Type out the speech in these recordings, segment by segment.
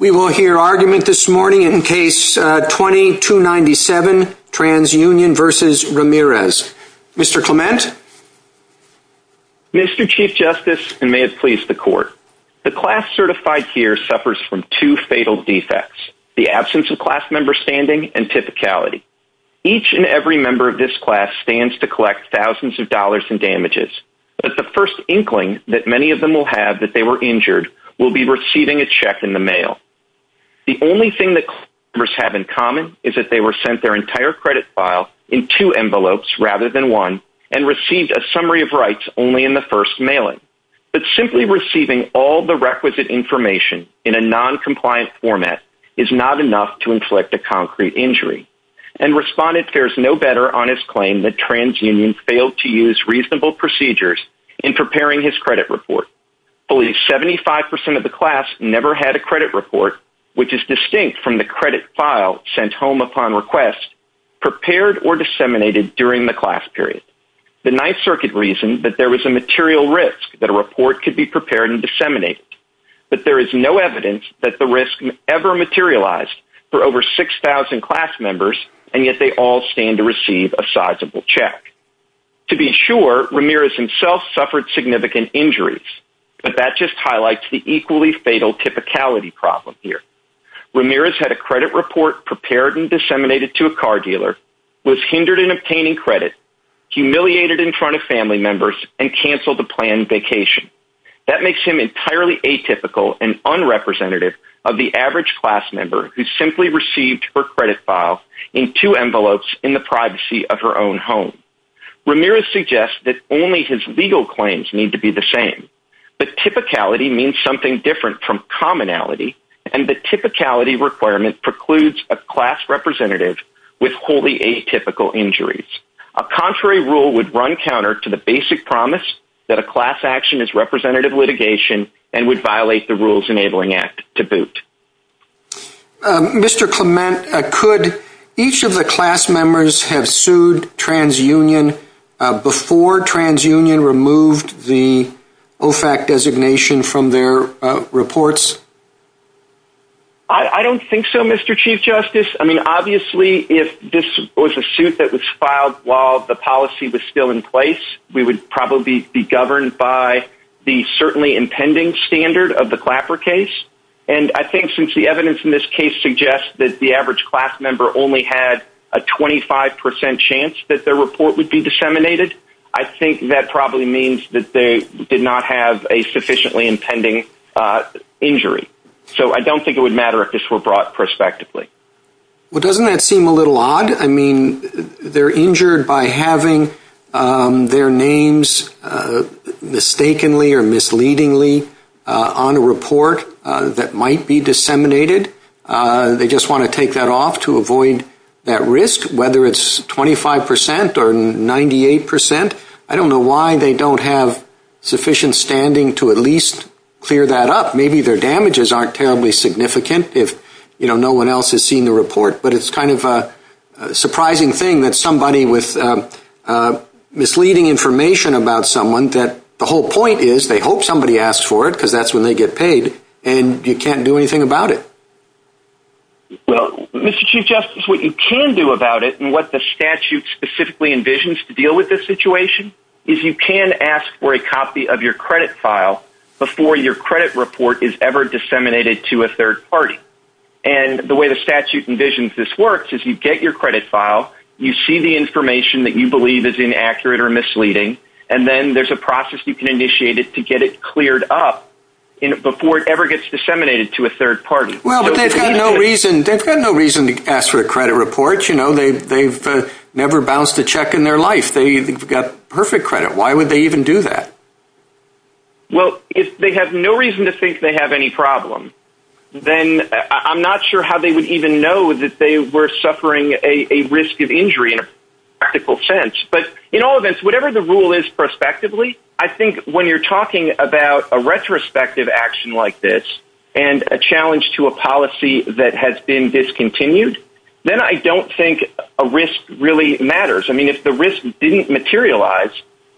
We will hear argument this morning in case 2297 TransUnion v. Ramirez. Mr. Clement? Mr. Chief Justice, and may it please the Court, the class certified here suffers from two fatal defects, the absence of class member standing and typicality. Each and every member of this class stands to collect thousands of dollars in damages, but the first inkling that many of them will have that they were injured will be receiving a check in the mail. The only thing that class members have in common is that they were sent their entire credit file in two envelopes rather than one and received a summary of rights only in the first mailing. But simply receiving all the requisite information in a non-compliant format is not enough to inflict a concrete injury. And Respondent fares no better on his claim that TransUnion failed to use reasonable procedures in preparing his credit report. Only 75% of the class never had a credit report, which is distinct from the credit file sent home upon request, prepared or disseminated during the class period. The Ninth Circuit reasoned that there was a material risk that a report could be prepared and disseminated, but there is no evidence that the risk ever materialized for over 6,000 class members, and yet they all stand to receive a sizable check. To be sure, Ramirez himself suffered significant injuries, but that just highlights the equally fatal typicality problem here. Ramirez had a credit report prepared and disseminated to a car dealer, was hindered in obtaining credit, humiliated in front of family members, and canceled a planned vacation. That makes him entirely atypical and unrepresentative of the average class member who simply received her credit file in two envelopes in the privacy of her own home. Ramirez suggests that only his legal claims need to be the same, but typicality means something different from commonality, and the typicality requirement precludes a class representative with wholly atypical injuries. A contrary rule would run counter to the basic promise that a class action is representative litigation and would violate the Rules Enabling Act to boot. Mr. Clement, could each of the class members have sued TransUnion before TransUnion removed the OFAC designation from their reports? I don't think so, Mr. Chief Justice. I mean, obviously, if this was a suit that was filed while the policy was still in place, we would probably be governed by the certainly impending standard of the Clapper case. And I think since the evidence in this case suggests that the average class member only had a 25% chance that their report would be disseminated, I think that probably means that they did not have a sufficiently impending injury. So I don't think it would matter if this were brought prospectively. Well, doesn't that seem a little odd? I mean, they're injured by having their report disseminated, but they don't want to take that risk on a report that might be disseminated. They just want to take that off to avoid that risk, whether it's 25% or 98%. I don't know why they don't have sufficient standing to at least clear that up. Maybe their damages aren't terribly significant if, you know, no one else has seen the report. But it's kind of a surprising thing that somebody with misleading information about someone, that the whole point is they hope somebody asks for it because that's when they get paid, and you can't do anything about it. Well, Mr. Chief Justice, what you can do about it and what the statute specifically envisions to deal with this situation is you can ask for a copy of your credit file before your credit report is ever disseminated to a third party. And the way the statute envisions this works is you get your credit file, you see the information that you believe is inaccurate or misleading, and then there's a process you can initiate to get it cleared up before it ever gets disseminated to a third party. Well, but they have no reason to ask for a credit report. You know, they've never bounced a check in their life. They've got perfect credit. Why would they even do that? Well, if they have no reason to think they have any problem, then I'm not sure how they would even know that they were suffering a risk of injury in a practical sense. But in all events, whatever the rule is prospectively, I think when you're talking about a retrospective action like this and a challenge to a policy that has been discontinued, then I don't think a risk really matters. I mean, if the risk didn't materialize,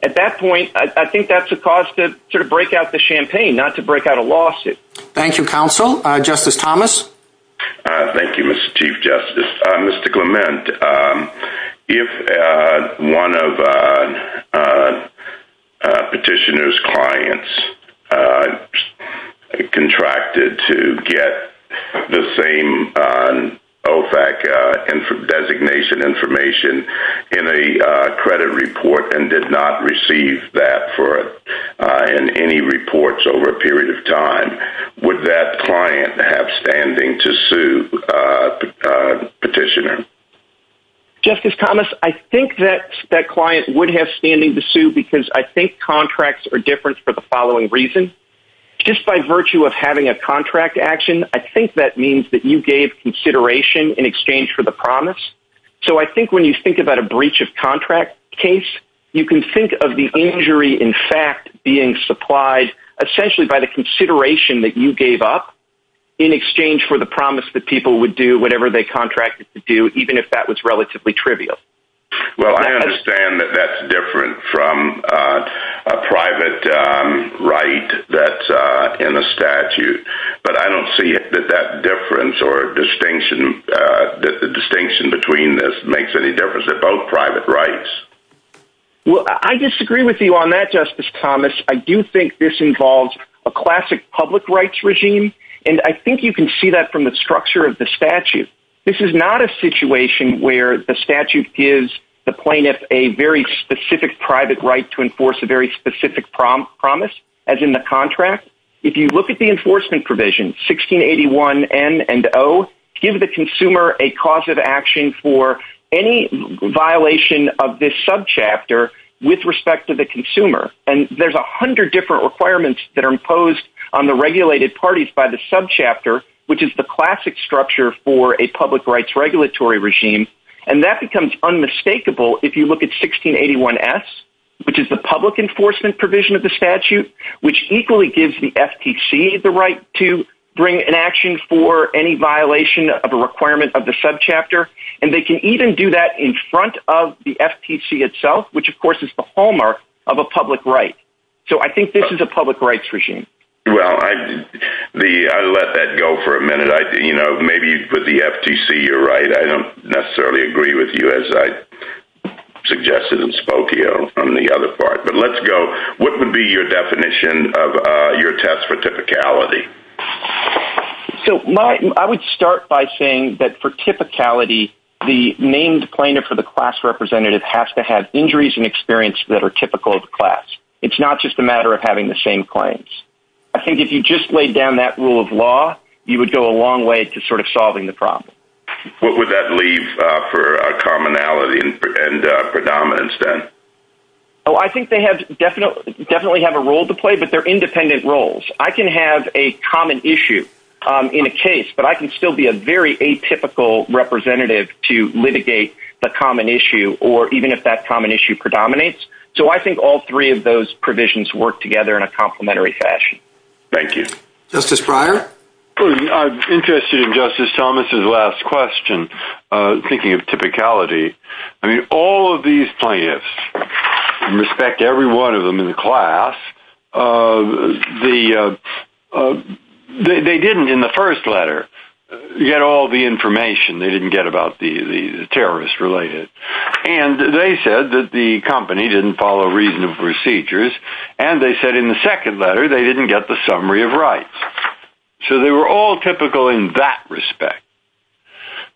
at that point, I think that's a cause to sort of break out the champagne, not to break out a lawsuit. Thank you, counsel. Justice Thomas? Thank you, Mr. Chief Justice. Mr. Clement, if one of petitioner's clients contracted to get the same OFAC designation information in a credit report and did not receive that in any reports over a period of time, would that client have standing to sue petitioner? Justice Thomas, I think that that client would have standing to sue because I think contracts are different for the following reason. Just by virtue of having a contract action, I think that means that you gave consideration in exchange for the promise. So I think when you think about a breach of contract case, you can think of the injury in fact being supplied essentially by the consideration that you gave up in exchange for the promise that people would do whatever they contracted to do, even if that was relatively trivial. Well, I understand that that's different from a private right that's in the statute, but I don't see that that difference or distinction between this makes any difference in both private rights. Well, I disagree with you on that, Justice Thomas. I do think this involves a classic public rights regime, and I think you can see that from the structure of the statute. This is not a situation where the statute gives the plaintiff a very specific private right to enforce a very specific promise, as in the contract. If you look at the enforcement provision, 1681N and O, gives the consumer a cause of action for any violation of this subchapter with respect to the consumer. And there's a hundred different requirements that are imposed on the regulated parties by the subchapter, which is the classic structure for a public rights regulatory regime, and that becomes unmistakable if you look at 1681S, which is the public enforcement provision of the statute, which equally gives the FTC the right to bring an action for any violation of a requirement of the subchapter, and they can even do that in front of the FTC itself, which of course is the hallmark of a public right. So I think this is a public rights regime. Well, I let that go for a minute. You know, maybe with the FTC, you're right. I don't necessarily agree with you as I suggested and spoke to you on the other part, but let's go. What would be your definition of your test for typicality? So I would start by saying that for typicality, the named plaintiff or the class representative has to have injuries and experience that are typical of the class. It's not just a matter of having the same claims. I think if you just laid down that rule of law, you would go a long way to sort of solving the problem. What would that leave for commonality and predominance then? Oh, I think they definitely have a role to play, but they're independent roles. I can have a common issue in a case, but I can still be a very atypical representative to litigate the common issue or even if that common issue predominates. So I think all three of those provisions work together in a complimentary fashion. Thank you. Justice Breyer. I'm interested in Justice Thomas's last question. Thinking of typicality, I mean, all of these plaintiffs, and respect every one of them in the class, they didn't in the first letter get all the information they didn't get about the terrorists related. And they said that the company didn't follow reasonable procedures, and they said in the second letter they didn't get the summary of rights. So they were all typical in that respect.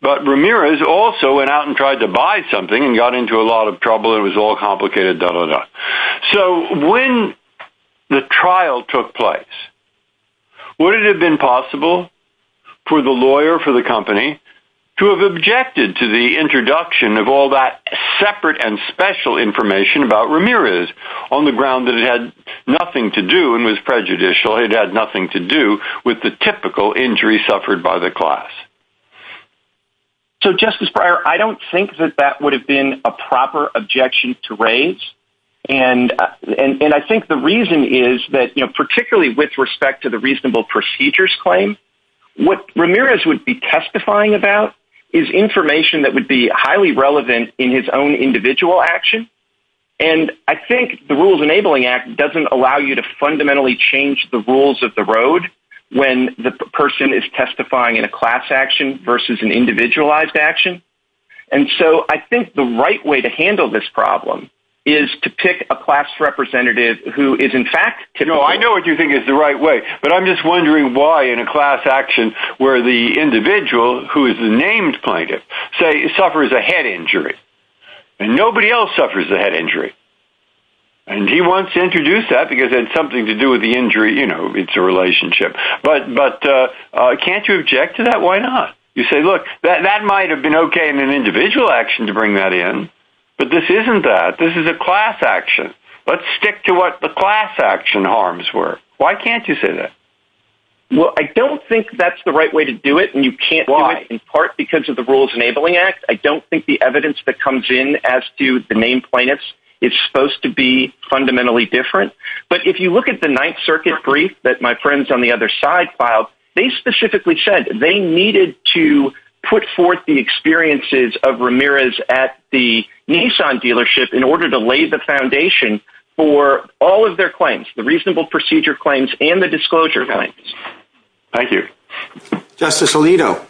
But Ramirez also went out and tried to buy something and got into a lot of trouble. It was all complicated, da, da, da. So when the trial took place, would it have been possible for the lawyer for the company to have objected to the introduction of all that separate and special information about Ramirez on the ground that it had nothing to do and was prejudicial, it had nothing to do with the typical injury suffered by the class? So, Justice Breyer, I don't think that that would have been a proper objection to raise. And I think the reason is that, you know, particularly with respect to the reasonable procedures claim, what Ramirez would be testifying about is information that would be highly relevant in his own individual action. And I think the Rules Enabling Act doesn't allow you to fundamentally change the rules of the road when the person is testifying in a class action versus an individualized action. And so I think the right way to handle this problem is to pick a class representative who is, in fact, No, I know what you think is the right way. But I'm just wondering why in a class action where the individual who is the named plaintiff suffers a head injury and nobody else suffers a head injury. And he wants to introduce that because it's something to do with the injury. You know, it's a relationship. But can't you object to that? Why not? You say, look, that might have been OK in an individual action to bring that in. But this isn't that. This is a class action. Let's stick to what the class action harms were. Why can't you say that? Well, I don't think that's the right way to do it. And you can't do it in part because of the Rules Enabling Act. I don't think the evidence that comes in as to the named plaintiffs is supposed to be fundamentally different. But if you look at the Ninth Circuit brief that my friends on the other side filed, they specifically said they needed to put forth the experiences of Ramirez at the Nissan dealership in order to lay the foundation for all of their claims, the reasonable procedure claims and the disclosure claims. Thank you. Justice Alito.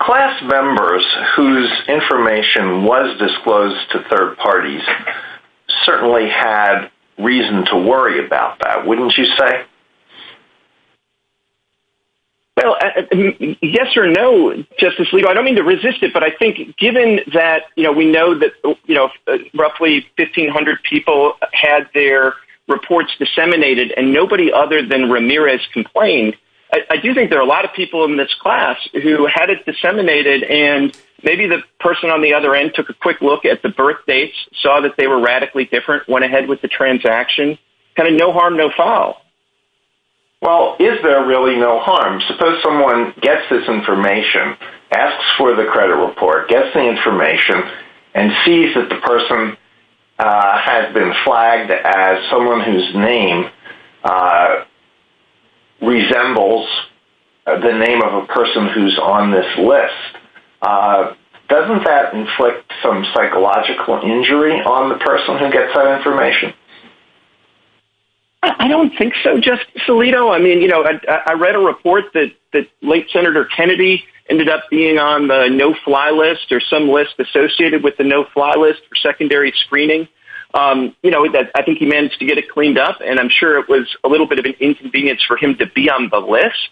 Class members whose information was disclosed to third parties certainly had reason to worry about that, wouldn't you say? Well, yes or no, Justice Alito. I don't mean to resist it, but I think given that we know that roughly 1,500 people had their reports disseminated and nobody other than Ramirez complained, I do think there are a lot of people in this class who had it disseminated and maybe the person on the other end took a quick look at the birth dates, saw that they were radically different, went ahead with the transaction, kind of no harm, no foul. Well, is there really no harm? Suppose someone gets this information, asks for the credit report, gets the information, and sees that the person has been flagged as someone whose name resembles the name of a person who's on this list. Doesn't that inflict some psychological injury on the person who gets that information? I don't think so, Justice Alito. I read a report that late Senator Kennedy ended up being on the no-fly list or some list associated with the no-fly list for secondary screening. I think he managed to get it cleaned up, and I'm sure it was a little bit of an inconvenience for him to be on the list,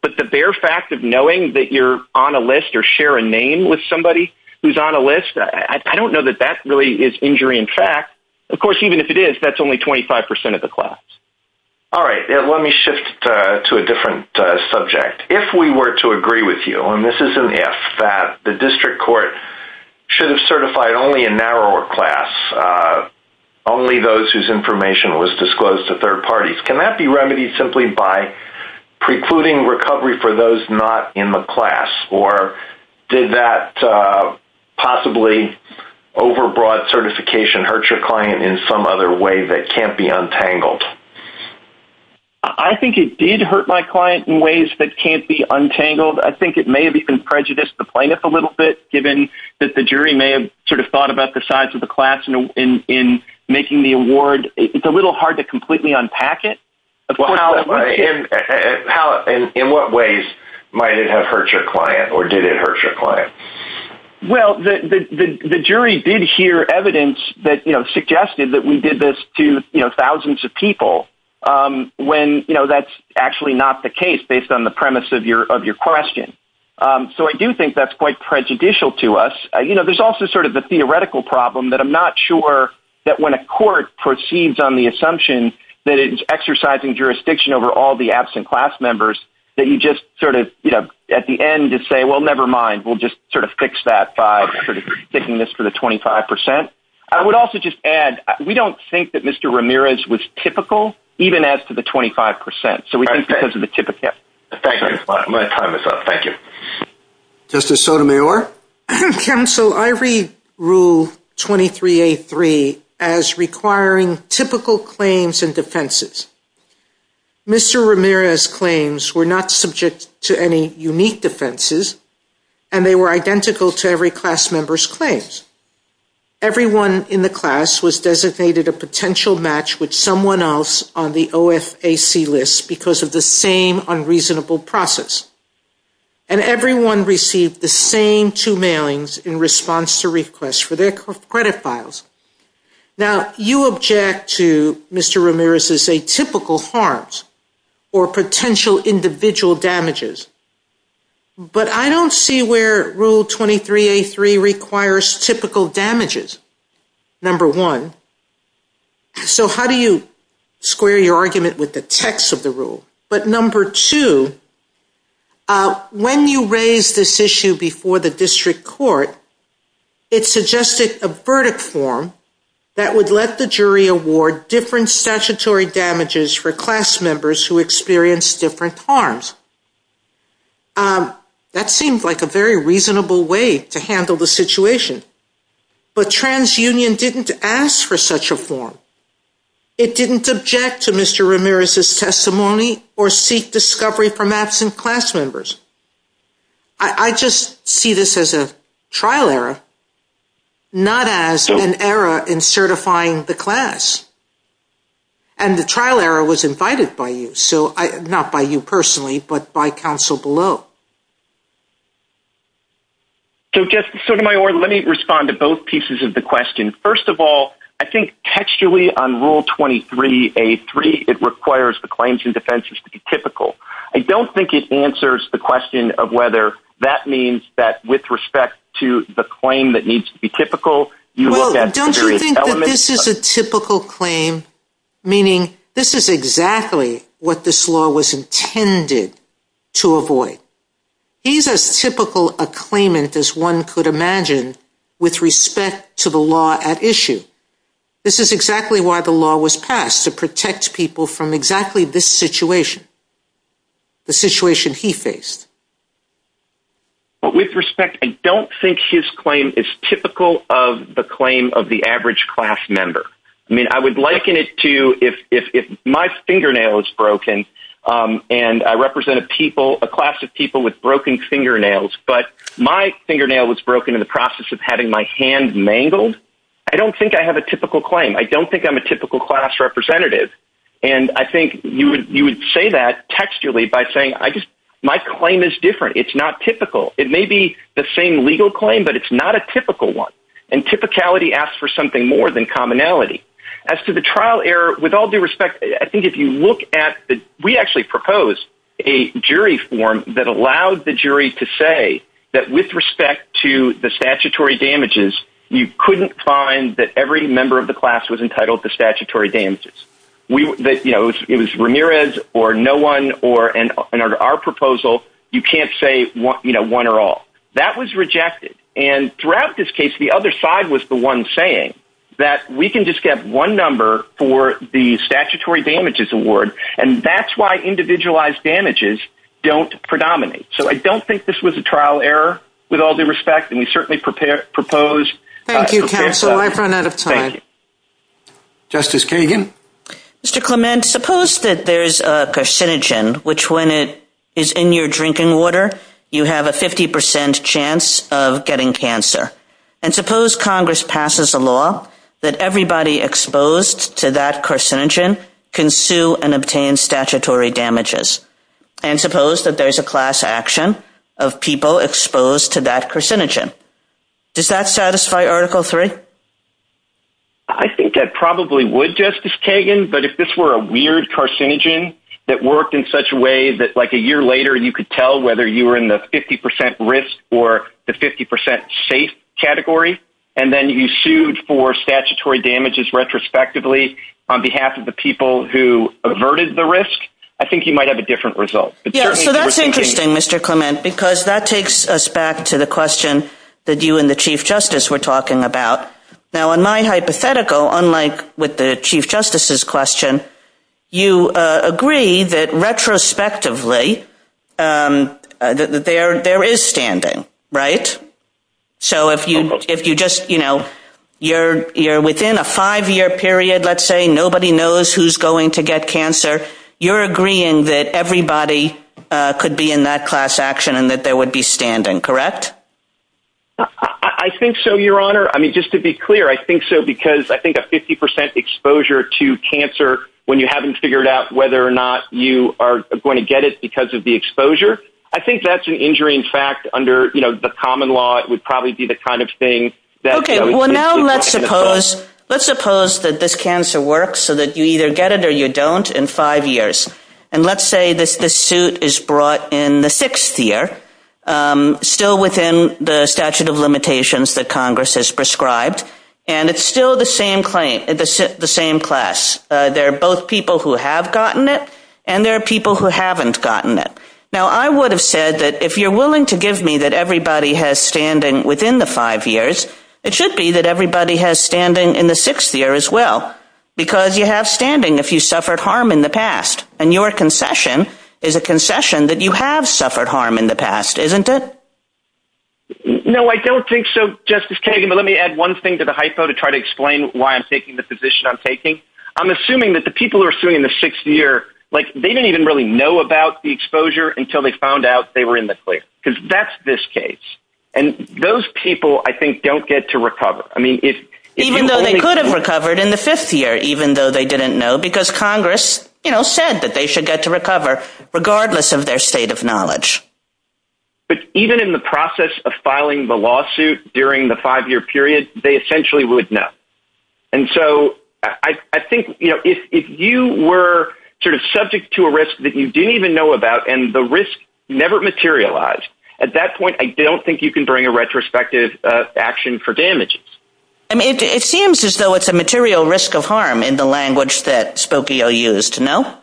but the bare fact of knowing that you're on a list or share a name with somebody who's on a list, I don't know that that really is injury in fact. Of course, even if it is, that's only 25% of the class. All right, let me shift to a different subject. If we were to agree with you, and this is an if, that the district court should have certified only a narrower class, only those whose information was disclosed to third parties, can that be remedied simply by precluding recovery for those not in the class, or did that possibly overbroad certification hurt your client in some other way that can't be untangled? I think it did hurt my client in ways that can't be untangled. I think it may have even prejudiced the plaintiff a little bit, given that the jury may have sort of thought about the size of the class in making the award. It's a little hard to completely unpack it. In what ways might it have hurt your client, or did it hurt your client? Well, the jury did hear evidence that suggested that we did this to thousands of people, when that's actually not the case based on the premise of your question. So I do think that's quite prejudicial to us. There's also sort of the theoretical problem that I'm not sure that when a court proceeds on the assumption that it's exercising jurisdiction over all the absent class members, that you just sort of at the end say, well, never mind. We'll just sort of fix that by sort of sticking this for the 25%. I would also just add, we don't think that Mr. Ramirez was typical, even as to the 25%. So we think because of the typical. I'm going to time this up. Thank you. Justice Sotomayor? Counsel, I read Rule 23A3 as requiring typical claims and defenses. Mr. Ramirez's claims were not subject to any unique defenses, and they were identical to every class member's claims. Everyone in the class was designated a potential match with someone else on the OFAC list because of the same unreasonable process. And everyone received the same two mailings in response to requests for their credit files. Now, you object to Mr. Ramirez's atypical harms or potential individual damages, but I don't see where Rule 23A3 requires typical damages, number one. So how do you square your argument with the text of the rule? Number one, I don't think that's a good argument. But number two, when you raise this issue before the district court, it suggested a verdict form that would let the jury award different statutory damages for class members who experienced different harms. That seemed like a very reasonable way to handle the situation. But TransUnion didn't ask for such a form. It didn't object to Mr. Ramirez's testimony or seek discovery for absent class members. I just see this as a trial error, not as an error in certifying the class. And the trial error was invited by you, not by you personally, but by counsel below. So, Justice Sotomayor, let me respond to both pieces of the question. First of all, I think textually on Rule 23A3, it requires the claims and defenses to be typical. I don't think it answers the question of whether that means that with respect to the claim that needs to be typical, you look at the jury's elements. Well, don't you think that this is a typical claim, meaning this is exactly what this law was intended to avoid? He's as typical a claimant as one could imagine with respect to the law at issue. This is exactly why the law was passed, to protect people from exactly this situation, the situation he faced. With respect, I don't think his claim is typical of the claim of the average class member. I mean, I would liken it to if my fingernail was broken, and I represented a class of people with broken fingernails, but my fingernail was broken in the process of having my hand mangled, I don't think I have a typical claim. I don't think I'm a typical class representative. And I think you would say that textually by saying my claim is different. It's not typical. It may be the same legal claim, but it's not a typical one. And typicality asks for something more than commonality. As to the trial error, with all due respect, I think if you look at the – we actually proposed a jury form that allowed the jury to say that with respect to the statutory damages, you couldn't find that every member of the class was entitled to statutory damages. It was Ramirez or no one, and under our proposal, you can't say one or all. That was rejected. And throughout this case, the other side was the one saying that we can just get one number for the statutory damages award, and that's why individualized damages don't predominate. So I don't think this was a trial error, with all due respect, and we certainly propose – Thank you, counsel. I've run out of time. Thank you. Justice Kagan? Mr. Clement, suppose that there's a carcinogen, which when it is in your drinking water, you have a 50% chance of getting cancer. And suppose Congress passes a law that everybody exposed to that carcinogen can sue and obtain statutory damages. And suppose that there's a class action of people exposed to that carcinogen. Does that satisfy Article III? I think that probably would, Justice Kagan, but if this were a weird carcinogen that worked in such a way that like a year later you could tell whether you were in the 50% risk or the 50% safe category, and then you sued for statutory damages retrospectively on behalf of the people who averted the risk, I think you might have a different result. So that's interesting, Mr. Clement, because that takes us back to the question that you and the Chief Justice were talking about. Now, in my hypothetical, unlike with the Chief Justice's question, you agree that retrospectively there is standing, right? So if you just, you know, you're within a five-year period, let's say, nobody knows who's going to get cancer, you're agreeing that everybody could be in that class action and that there would be standing, correct? I think so, Your Honor. I mean, just to be clear, I think so because I think a 50% exposure to cancer when you haven't figured out whether or not you are going to get it because of the exposure, I think that's an injury. In fact, under, you know, the common law, it would probably be the kind of thing that… Okay. Well, now let's suppose that this cancer works so that you either get it or you don't in five years. And let's say that this suit is brought in the sixth year, still within the statute of limitations that Congress has prescribed, and it's still the same class. There are both people who have gotten it and there are people who haven't gotten it. Now, I would have said that if you're willing to give me that everybody has standing within the five years, it should be that everybody has standing in the sixth year as well because you have standing if you suffered harm in the past. And your concession is a concession that you have suffered harm in the past, isn't it? No, I don't think so, Justice Kagan. But let me add one thing to the hypo to try to explain why I'm taking the position I'm taking. I'm assuming that the people who are suing in the sixth year, like they didn't even really know about the exposure until they found out they were in the clear because that's this case. And those people, I think, don't get to recover. I mean, even though they could have recovered in the fifth year, even though they didn't know because Congress said that they should get to recover, regardless of their state of knowledge. But even in the process of filing the lawsuit during the five-year period, they essentially would know. And so I think if you were sort of subject to a risk that you didn't even know about and the risk never materialized, at that point, I don't think you can bring a retrospective action for damages. I mean, it seems as though it's a material risk of harm in the language that Spokio used, no?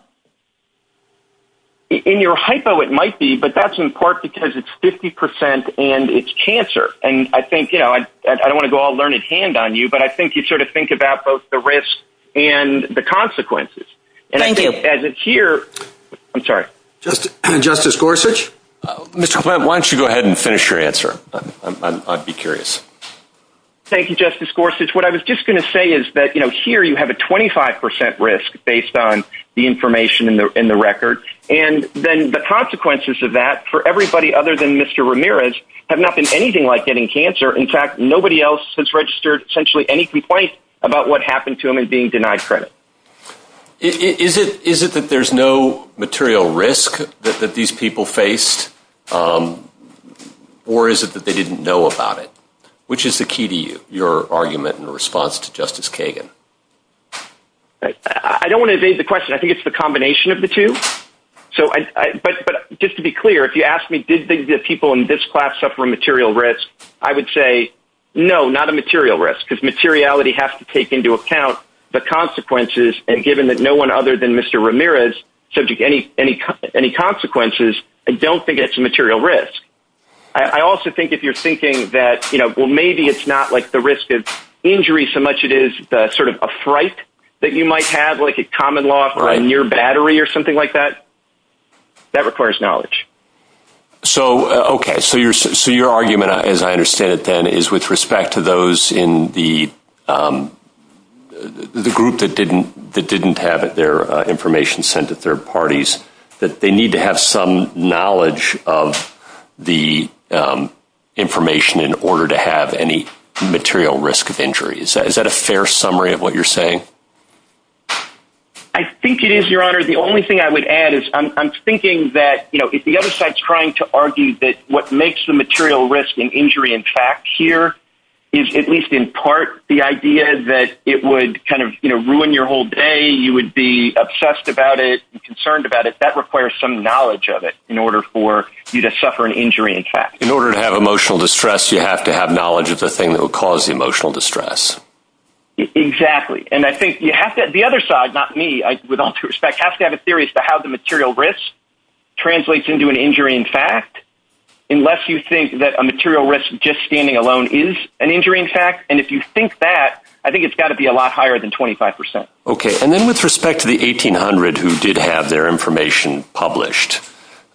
In your hypo, it might be, but that's in part because it's 50% and it's chancer. And I think, you know, I don't want to go all learned hand on you, but I think you should think about both the risk and the consequences. Thank you. And I think as it's here, I'm sorry. Justice Gorsuch? Mr. Clement, why don't you go ahead and finish your answer? I'd be curious. Thank you, Justice Gorsuch. What I was just going to say is that, you know, here you have a 25% risk based on the information in the record. And then the consequences of that for everybody other than Mr. Ramirez have not been anything like getting cancer. In fact, nobody else has registered essentially any complaints about what happened to him and being denied credit. Is it that there's no material risk that these people face? Or is it that they didn't know about it? Which is the key to your argument in response to Justice Kagan? I don't want to evade the question. I think it's the combination of the two. But just to be clear, if you ask me did people in this class suffer material risk, I would say no, not a material risk. Because materiality has to take into account the consequences. And given that no one other than Mr. Ramirez is subject to any consequences, I don't think it's a material risk. I also think if you're thinking that, you know, well, maybe it's not like the risk of injury so much it is sort of a fright that you might have, like a common law near battery or something like that, that requires knowledge. So, okay. So your argument, as I understand it, then, is with respect to those in the group that didn't have their information sent to third parties, that they need to have some knowledge of the information in order to have any material risk of injury. Is that a fair summary of what you're saying? I think it is, Your Honor. The only thing I would add is I'm thinking that, you know, the other side's trying to argue that what makes the material risk in injury in fact here is at least in part the idea that it would kind of, you know, ruin your whole day. You would be obsessed about it, concerned about it. That requires some knowledge of it in order for you to suffer an injury in fact. In order to have emotional distress, you have to have knowledge of the thing that will cause the emotional distress. Exactly. The other side, not me, with all due respect, has to have a theory as to how the material risk translates into an injury in fact, unless you think that a material risk just standing alone is an injury in fact. And if you think that, I think it's got to be a lot higher than 25%. Okay. And then with respect to the 1800 who did have their information published,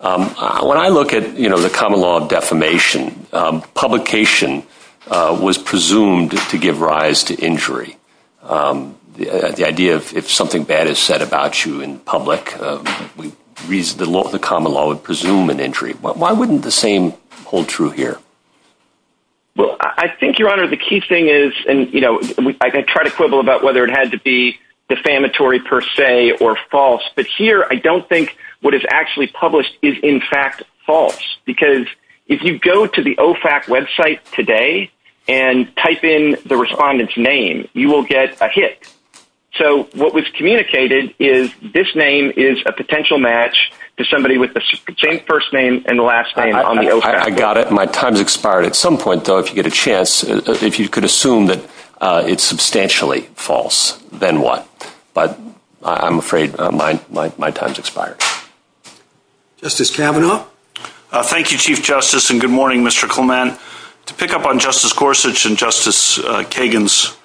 when I look at, you know, the common law of defamation, publication was presumed to give rise to injury. The idea of if something bad is said about you in public, the common law would presume an injury. Why wouldn't the same hold true here? Well, I think, Your Honor, the key thing is, and, you know, I can try to quibble about whether it had to be defamatory per se or false, but here I don't think what is actually published is in fact false. Because if you go to the OFAC website today and type in the respondent's name, you will get a hit. So what was communicated is this name is a potential match to somebody with the same first name and the last name on the OFAC. I got it. My time has expired. At some point, though, if you get a chance, if you could assume that it's substantially false, then what? But I'm afraid my time has expired. Justice Kavanaugh? Thank you, Chief Justice, and good morning, Mr. Clement. To pick up on Justice Gorsuch and Justice Kagan's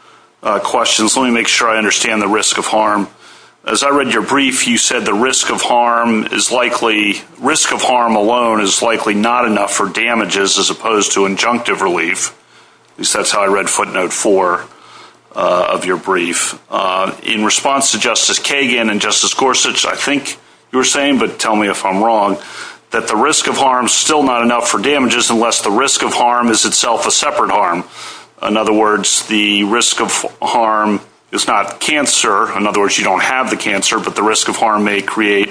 questions, let me make sure I understand the risk of harm. As I read your brief, you said the risk of harm alone is likely not enough for damages as opposed to injunctive relief. At least that's how I read footnote four of your brief. In response to Justice Kagan and Justice Gorsuch, I think you were saying, but tell me if I'm wrong, that the risk of harm is still not enough for damages unless the risk of harm is itself a separate harm. In other words, the risk of harm is not cancer. In other words, you don't have the cancer, but the risk of harm may create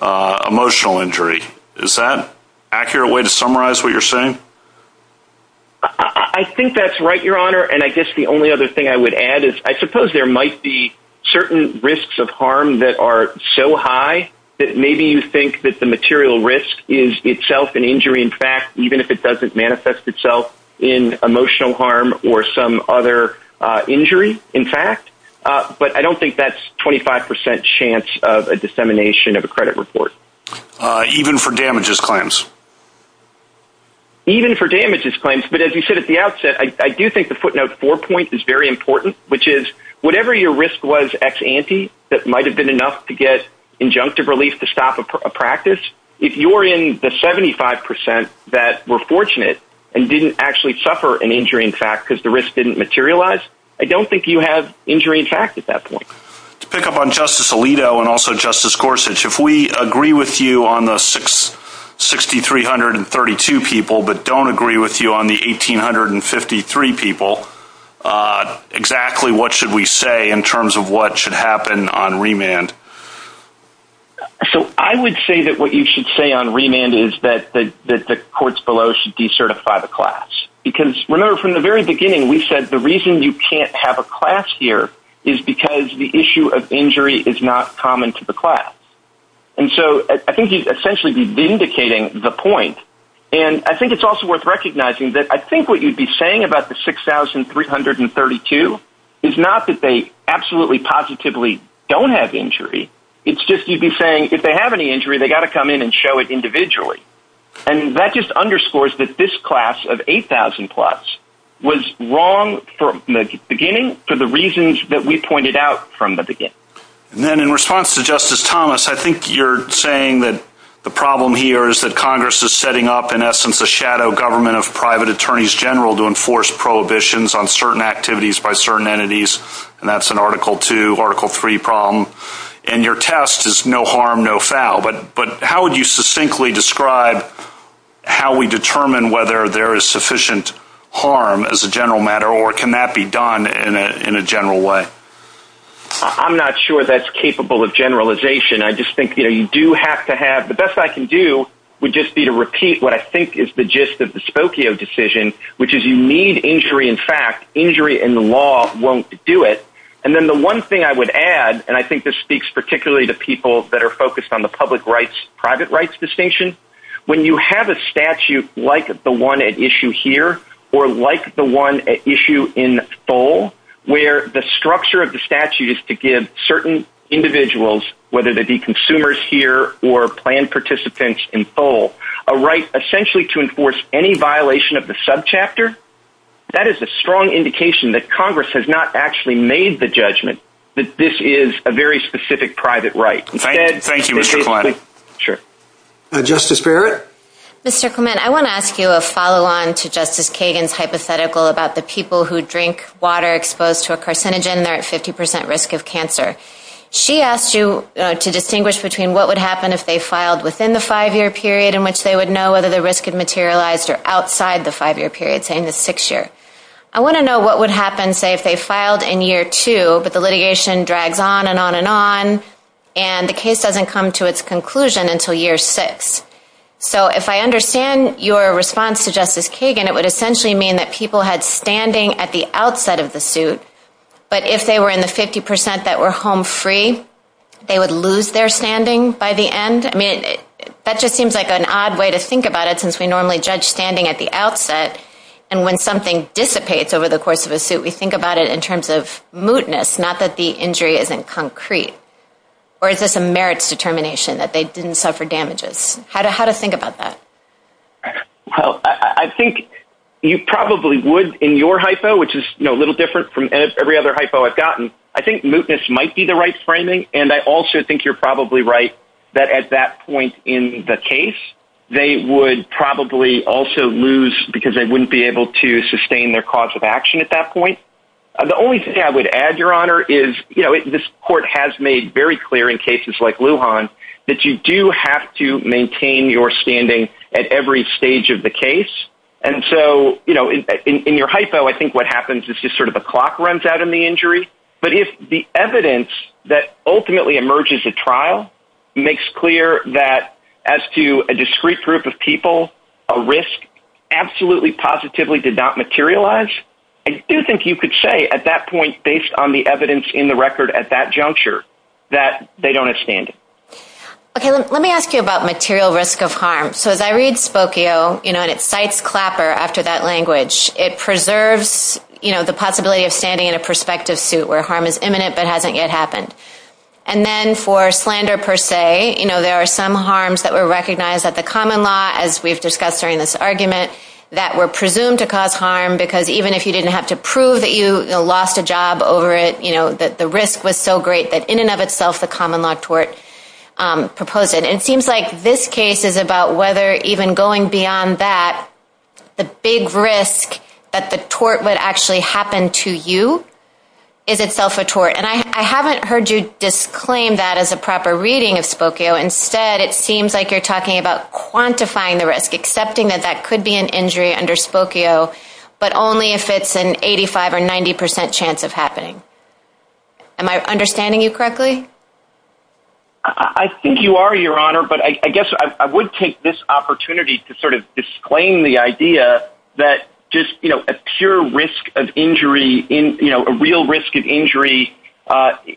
emotional injury. Is that an accurate way to summarize what you're saying? I think that's right, Your Honor. And I guess the only other thing I would add is I suppose there might be certain risks of harm that are so high that maybe you think that the material risk is itself an injury in fact, even if it doesn't manifest itself in emotional harm or some other injury in fact. But I don't think that's 25 percent chance of a dissemination of a credit report. Even for damages claims? Even for damages claims. But as you said at the outset, I do think the footnote four point is very important, which is whatever your risk was ex ante that might have been enough to get injunctive relief to stop a practice, if you're in the 75 percent that were fortunate and didn't actually suffer an injury in fact because the risk didn't materialize, I don't think you have injury in fact at that point. To pick up on Justice Alito and also Justice Gorsuch, if we agree with you on the 6,332 people but don't agree with you on the 1,853 people, exactly what should we say in terms of what should happen on remand? So I would say that what you should say on remand is that the courts below should decertify the class. Because remember from the very beginning we said the reason you can't have a class here is because the issue of injury is not common to the class. And so I think you'd essentially be vindicating the point. And I think it's also worth recognizing that I think what you'd be saying about the 6,332 is not that they absolutely positively don't have injury. It's just you'd be saying if they have any injury they've got to come in and show it individually. And that just underscores that this class of 8,000 plus was wrong from the beginning for the reasons that we pointed out from the beginning. And then in response to Justice Thomas, I think you're saying that the problem here is that Congress is setting up in essence a shadow government of private attorneys general to enforce prohibitions on certain activities by certain entities. And that's an Article II, Article III problem. And your test is no harm, no foul. But how would you succinctly describe how we determine whether there is sufficient harm as a general matter or can that be done in a general way? I'm not sure that's capable of generalization. I just think you do have to have – the best I can do would just be to repeat what I think is the gist of the Spokio decision, which is you need injury in fact. Injury in the law won't do it. And then the one thing I would add, and I think this speaks particularly to people that are focused on the public rights, private rights distinction, when you have a statute like the one at issue here or like the one at issue in full where the structure of the statute is to give certain individuals, whether they be consumers here or planned participants in full, a right essentially to enforce any violation of the subchapter, that is a strong indication that Congress has not actually made the judgment that this is a very specific private right. Thank you, Mr. Clement. Sure. Justice Barrett? Mr. Clement, I want to ask you a follow-on to Justice Kagan's hypothetical about the people who drink water exposed to a carcinogen, they're at 50% risk of cancer. She asked you to distinguish between what would happen if they filed within the five-year period in which they would know whether the risk had materialized or outside the five-year period, say in the sixth year. I want to know what would happen, say, if they filed in year two, but the litigation drags on and on and on, and the case doesn't come to its conclusion until year six. So if I understand your response to Justice Kagan, it would essentially mean that people had standing at the outset of the suit, but if they were in the 50% that were home free, they would lose their standing by the end? I mean, that just seems like an odd way to think about it, since we normally judge standing at the outset, and when something dissipates over the course of a suit, we think about it in terms of mootness, not that the injury isn't concrete. Or is this a merits determination, that they didn't suffer damages? How to think about that? Well, I think you probably would in your hypo, which is a little different from every other hypo I've gotten. I think mootness might be the right framing, and I also think you're probably right that at that point in the case, they would probably also lose because they wouldn't be able to sustain their cause of action at that point. The only thing I would add, Your Honor, is this court has made very clear in cases like Lujan that you do have to maintain your standing at every stage of the case, and so in your hypo, I think what happens is just sort of a clock runs out on the injury, but if the evidence that ultimately emerges at trial makes clear that as to a discreet group of people, a risk absolutely positively did not materialize, I do think you could say at that point, based on the evidence in the record at that juncture, that they don't have standing. Okay, let me ask you about material risk of harm. So as I read Spokio, and it cites Clapper after that language, it preserves the possibility of standing in a prospective suit where harm is imminent but hasn't yet happened. And then for slander per se, there are some harms that were recognized at the common law, as we've discussed during this argument, that were presumed to cause harm because even if you didn't have to prove that you lost a job over it, and the risk was so great that in and of itself the common law tort proposed it, it seems like this case is about whether even going beyond that, the big risk that the tort would actually happen to you is itself a tort. And I haven't heard you disclaim that as a proper reading of Spokio. Instead, it seems like you're talking about quantifying the risk, accepting that that could be an injury under Spokio, but only if it's an 85% or 90% chance of happening. Am I understanding you correctly? I think you are, Your Honor. But I guess I would take this opportunity to sort of disclaim the idea that just, you know, a pure risk of injury, you know, a real risk of injury,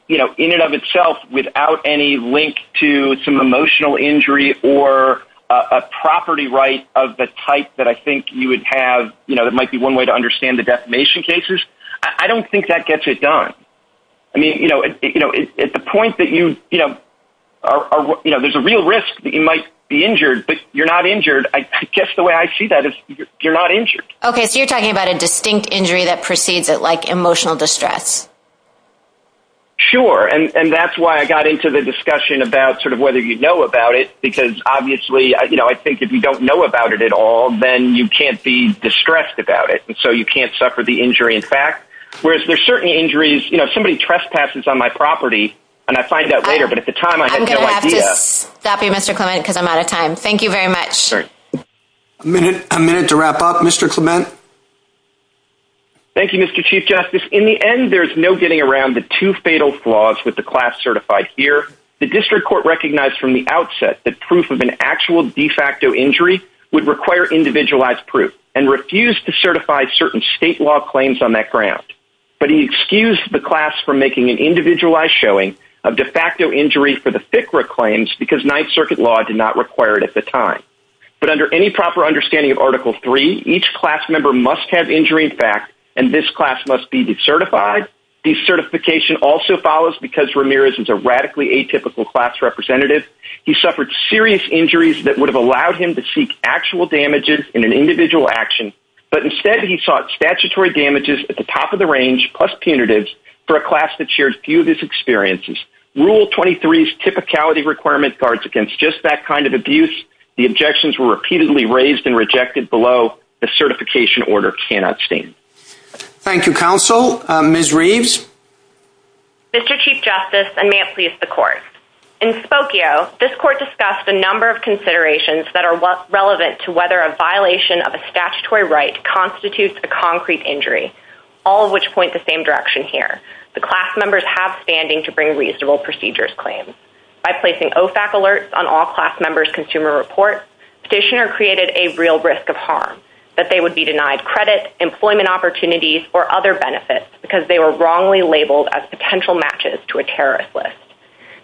you know, in and of itself without any link to some emotional injury or a property right of the type that I think you would have, you know, it might be one way to understand the defamation cases. I don't think that gets it done. I mean, you know, at the point that you, you know, there's a real risk that you might be injured, but you're not injured, I guess the way I see that is you're not injured. Okay, so you're talking about a distinct injury that precedes it, like emotional distress. Sure, and that's why I got into the discussion about sort of whether you know about it, because obviously, you know, I think if you don't know about it at all, then you can't be distressed about it, and so you can't suffer the injury in fact, whereas there's certain injuries, you know, somebody trespasses on my property, and I find out later, but at the time I had no idea. I'm going to have to stop you, Mr. Clement, because I'm out of time. Thank you very much. A minute to wrap up, Mr. Clement. Thank you, Mr. Chief Justice. In the end, there's no getting around the two fatal flaws with the class certified here. The district court recognized from the outset that proof of an actual de facto injury would require individualized proof and refused to certify certain state law claims on that ground, but he excused the class from making an individualized showing of de facto injury for the FCRA claims because Ninth Circuit law did not require it at the time. But under any proper understanding of Article III, each class member must have injury in fact, and this class must be decertified. Decertification also follows because Ramirez is a radically atypical class representative. He suffered serious injuries that would have allowed him to seek actual damages in an individual action, but instead he sought statutory damages at the top of the range, plus punitives, for a class that shared few of his experiences. Rule 23's typicality requirement guards against just that kind of abuse. The objections were repeatedly raised and rejected below. The certification order cannot stand. Thank you, counsel. Ms. Reeves? Mr. Chief Justice, and may it please the court. In Spokio, this court discussed a number of considerations that are relevant to whether a violation of a statutory right constitutes a concrete injury, all of which point the same direction here. The class members have standing to bring reasonable procedures claims. By placing OFAC alerts on all class members' consumer reports, petitioner created a real risk of harm, that they would be denied credit, employment opportunities, or other benefits because they were wrongly labeled as potential matches to a terrorist list.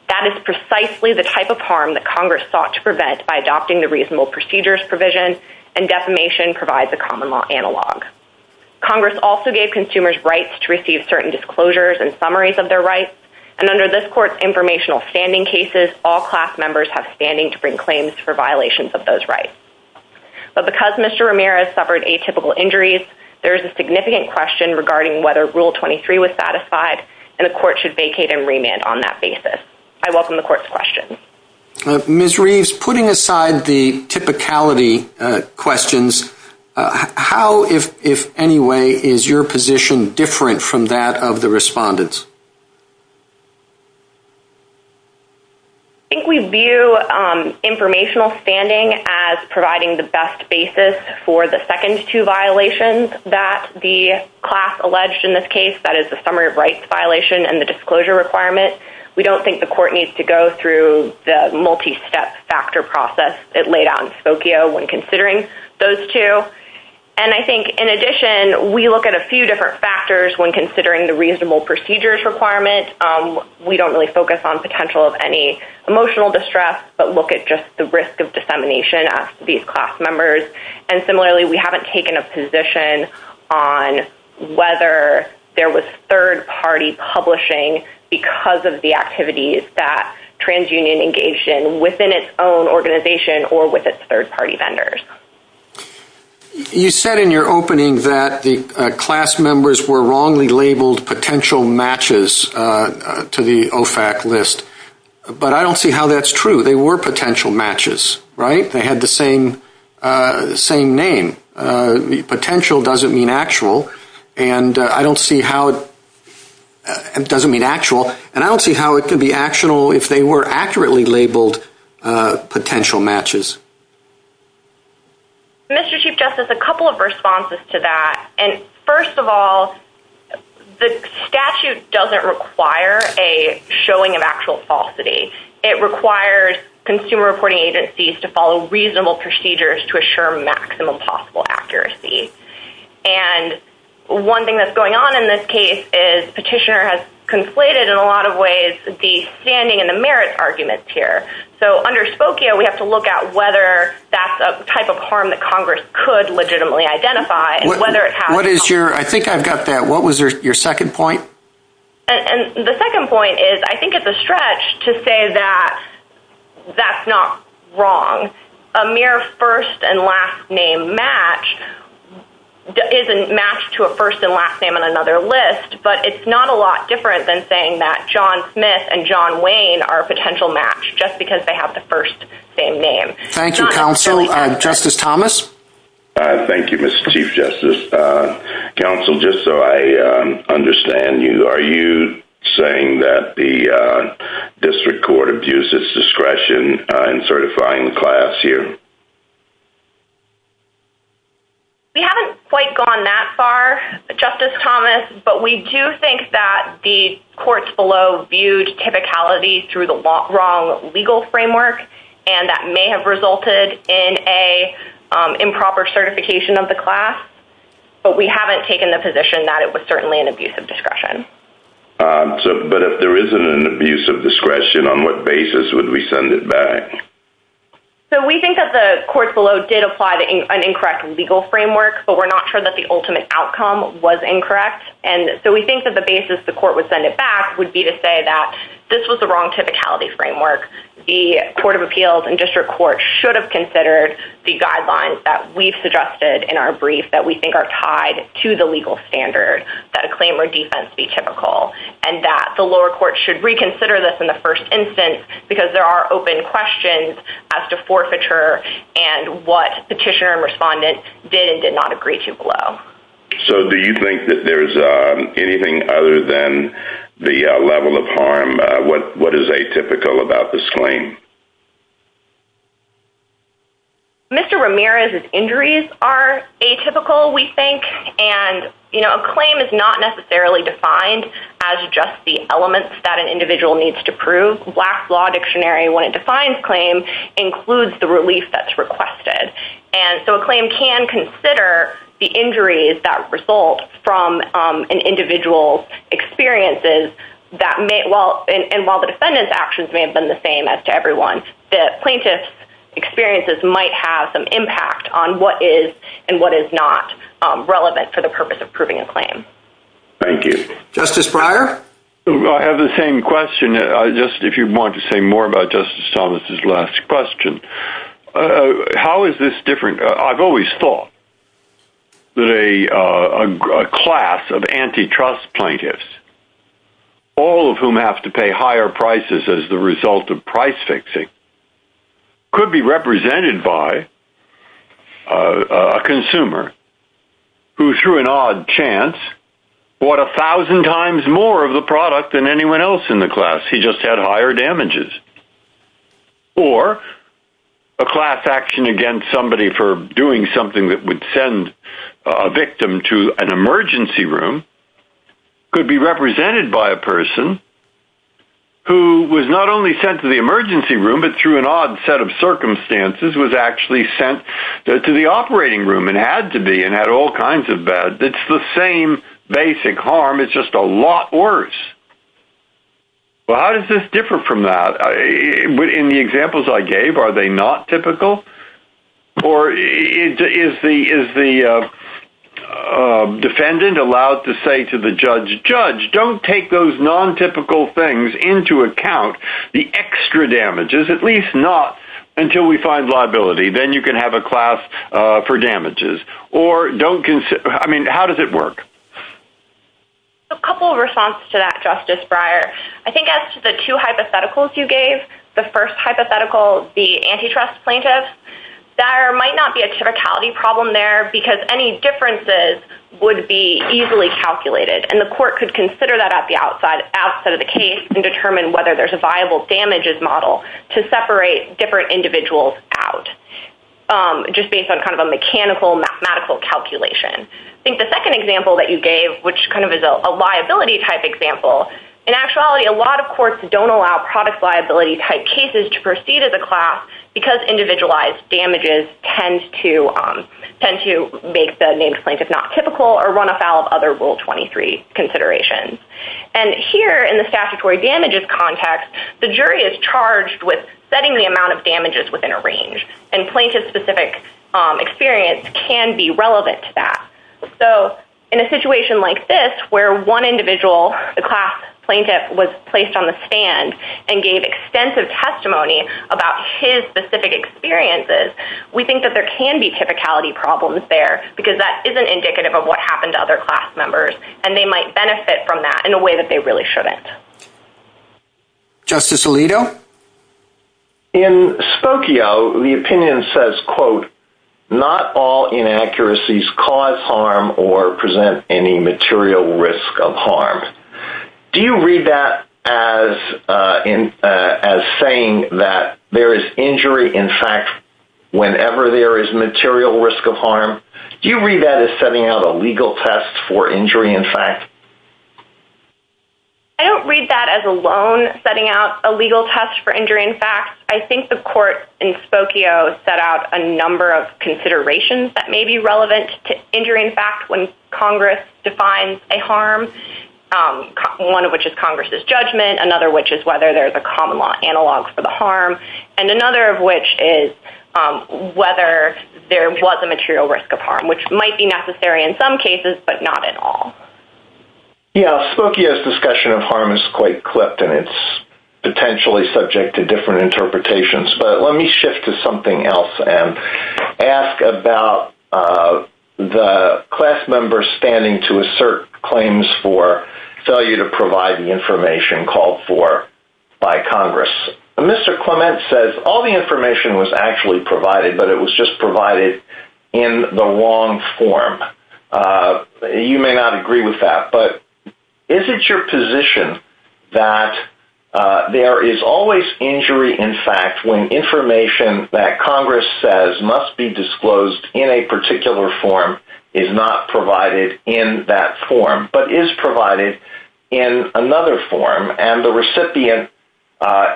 That is precisely the type of harm that Congress sought to prevent by adopting the reasonable procedures provision and defamation provides a common law analog. Congress also gave consumers rights to receive certain disclosures and summaries of their rights, and under this court's informational standing cases, all class members have standing to bring claims for violations of those rights. But because Mr. Ramirez suffered atypical injuries, there is a significant question regarding whether Rule 23 was satisfied, and the court should vacate and remand on that basis. I welcome the court's questions. Ms. Reeves, putting aside the typicality questions, how, if any way, is your position different from that of the respondents? I think we view informational standing as providing the best basis for the second two violations that the class alleged in this case, that is the summary of rights violation and the disclosure requirement. We don't think the court needs to go through the multi-step factor process that laid out in Spokio when considering those two. And I think, in addition, we look at a few different factors when considering the reasonable procedures requirement. We don't really focus on potential of any emotional distress, but look at just the risk of dissemination of these class members. And similarly, we haven't taken a position on whether there was third-party publishing because of the activities that TransUnion engaged in within its own organization or with its third-party vendors. You said in your opening that the class members were wrongly labeled potential matches to the OFAC list, but I don't see how that's true. They were potential matches, right? They had the same name. Potential doesn't mean actual, and I don't see how it can be actionable if they were accurately labeled potential matches. Mr. Chief Justice, a couple of responses to that. First of all, the statute doesn't require a showing of actual falsity. It requires consumer reporting agencies to follow reasonable procedures to assure maximum possible accuracy. And one thing that's going on in this case is Petitioner has conflated, in a lot of ways, the standing and the merits arguments here. So under Spokio, we have to look at whether that's a type of harm that Congress could legitimately identify. I think I've got that. What was your second point? The second point is I think it's a stretch to say that that's not wrong. A mere first and last name match isn't matched to a first and last name on another list, but it's not a lot different than saying that John Smith and John Wayne are a potential match, just because they have the first same name. Thank you, counsel. Justice Thomas? Thank you, Mr. Chief Justice. Counsel, just so I understand, are you saying that the district court abuses discretion in certifying the class here? We haven't quite gone that far, Justice Thomas, but we do think that the courts below viewed typicality through the wrong legal framework, and that may have resulted in an improper certification of the class, but we haven't taken the position that it was certainly an abuse of discretion. But if there isn't an abuse of discretion, on what basis would we send it back? So we think that the courts below did apply an incorrect legal framework, but we're not sure that the ultimate outcome was incorrect, and so we think that the basis the court would send it back would be to say that this was the wrong typicality framework. The court of appeals and district court should have considered the guidelines that we've suggested in our brief that we think are tied to the legal standard, that a claim or defense be typical, and that the lower court should reconsider this in the first instance because there are open questions as to forfeiture and what petitioner and respondent did and did not agree to below. So do you think that there's anything other than the level of harm? What is atypical about this claim? Mr. Ramirez's injuries are atypical, we think, and a claim is not necessarily defined as just the elements that an individual needs to prove. Black's Law Dictionary, when it defines claim, includes the relief that's requested. And so a claim can consider the injuries that result from an individual's experiences, and while the defendant's actions may have been the same as to everyone, the plaintiff's experiences might have some impact on what is and what is not relevant for the purpose of proving a claim. Thank you. Justice Breyer? I have the same question, just if you'd want to say more about Justice Thomas' last question. How is this different? I've always thought that a class of antitrust plaintiffs, all of whom have to pay higher prices as the result of price fixing, could be represented by a consumer who, through an odd chance, bought a thousand times more of the product than anyone else in the class. He just had higher damages. Or a class action against somebody for doing something that would send a victim to an emergency room could be represented by a person who was not only sent to the emergency room, but through an odd set of circumstances was actually sent to the operating room, and had to be, and had all kinds of bad. It's the same basic harm, it's just a lot worse. Well, how does this differ from that? In the examples I gave, are they not typical? Or is the defendant allowed to say to the judge, Judge, don't take those non-typical things into account, the extra damages, at least not until we find liability, then you can have a class for damages. Or don't consider, I mean, how does it work? A couple of responses to that, Justice Breyer. I think as to the two hypotheticals you gave, the first hypothetical, the antitrust plaintiff, there might not be a typicality problem there because any differences would be easily calculated. And the court could consider that at the outset of the case and determine whether there's a viable damages model to separate different individuals out, just based on kind of a mechanical, mathematical calculation. I think the second example that you gave, which kind of is a liability type example, in actuality, a lot of courts don't allow product liability type cases to proceed as a class because individualized damages tend to make the named plaintiff not typical or run afoul of other Rule 23 considerations. And here, in the statutory damages context, the jury is charged with setting the amount of damages within a range. And plaintiff-specific experience can be relevant to that. So in a situation like this, where one individual, the class plaintiff, was placed on the stand and gave extensive testimony about his specific experiences, we think that there can be typicality problems there because that isn't indicative of what happened to other class members. And they might benefit from that in a way that they really shouldn't. Justice Alito? In Spokio, the opinion says, quote, not all inaccuracies cause harm or present any material risk of harm. Do you read that as saying that there is injury, in fact, whenever there is material risk of harm? Do you read that as setting out a legal test for injury, in fact? I don't read that as alone setting out a legal test for injury, in fact. I think the court in Spokio set out a number of considerations that may be relevant to injury, in fact, when Congress defines a harm, one of which is Congress's judgment, another which is whether there's a common law analog for the harm, and another of which is whether there was a material risk of harm, which might be necessary in some cases, but not in all. Yeah, Spokio's discussion of harm is quite clipped, and it's potentially subject to different interpretations, but let me shift to something else and ask about the class members standing to assert claims for failure to provide the information called for by Congress. Mr. Clement says all the information was actually provided, but it was just provided in the wrong form. You may not agree with that, but is it your position that there is always injury, in fact, when information that Congress says must be disclosed in a particular form is not provided in that form, but is provided in another form, and the recipient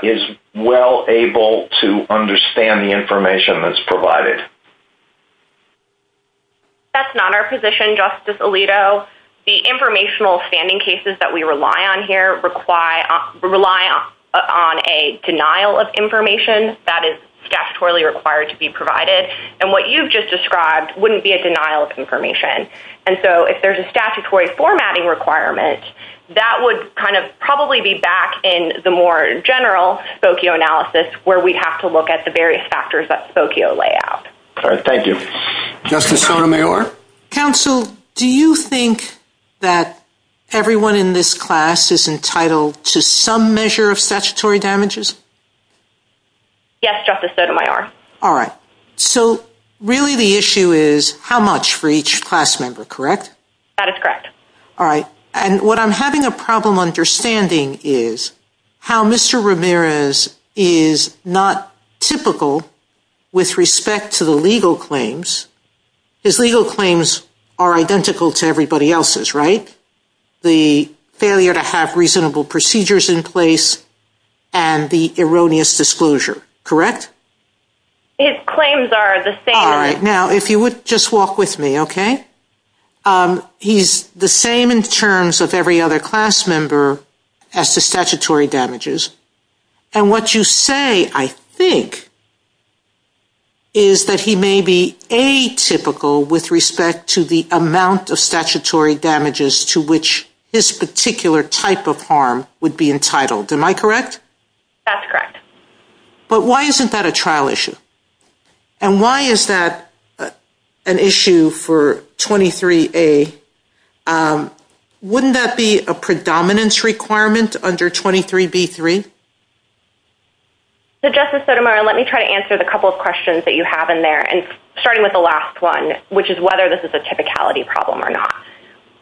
is well able to understand the information that's provided? That's not our position, Justice Alito. The informational standing cases that we rely on here rely on a denial of information that is statutorily required to be provided, and what you've just described wouldn't be a denial of information. And so if there's a statutory formatting requirement, that would kind of probably be back in the more general Spokio analysis where we have to look at the various factors that Spokio lay out. Thank you. Justice Sotomayor? Counsel, do you think that everyone in this class is entitled to some measure of statutory damages? Yes, Justice Sotomayor. All right. So really the issue is how much for each class member, correct? That is correct. All right. And what I'm having a problem understanding is how Mr. Ramirez is not typical with respect to the legal claims. His legal claims are identical to everybody else's, right? The failure to have reasonable procedures in place and the erroneous disclosure, correct? His claims are the same. All right. Now, if you would just walk with me, okay? He's the same in terms of every other class member as the statutory damages. And what you say, I think, is that he may be atypical with respect to the amount of statutory damages to which this particular type of harm would be entitled. Am I correct? That's correct. But why isn't that a trial issue? And why is that an issue for 23A? Wouldn't that be a predominance requirement under 23B3? So, Justice Sotomayor, let me try to answer the couple of questions that you have in there, starting with the last one, which is whether this is a typicality problem or not.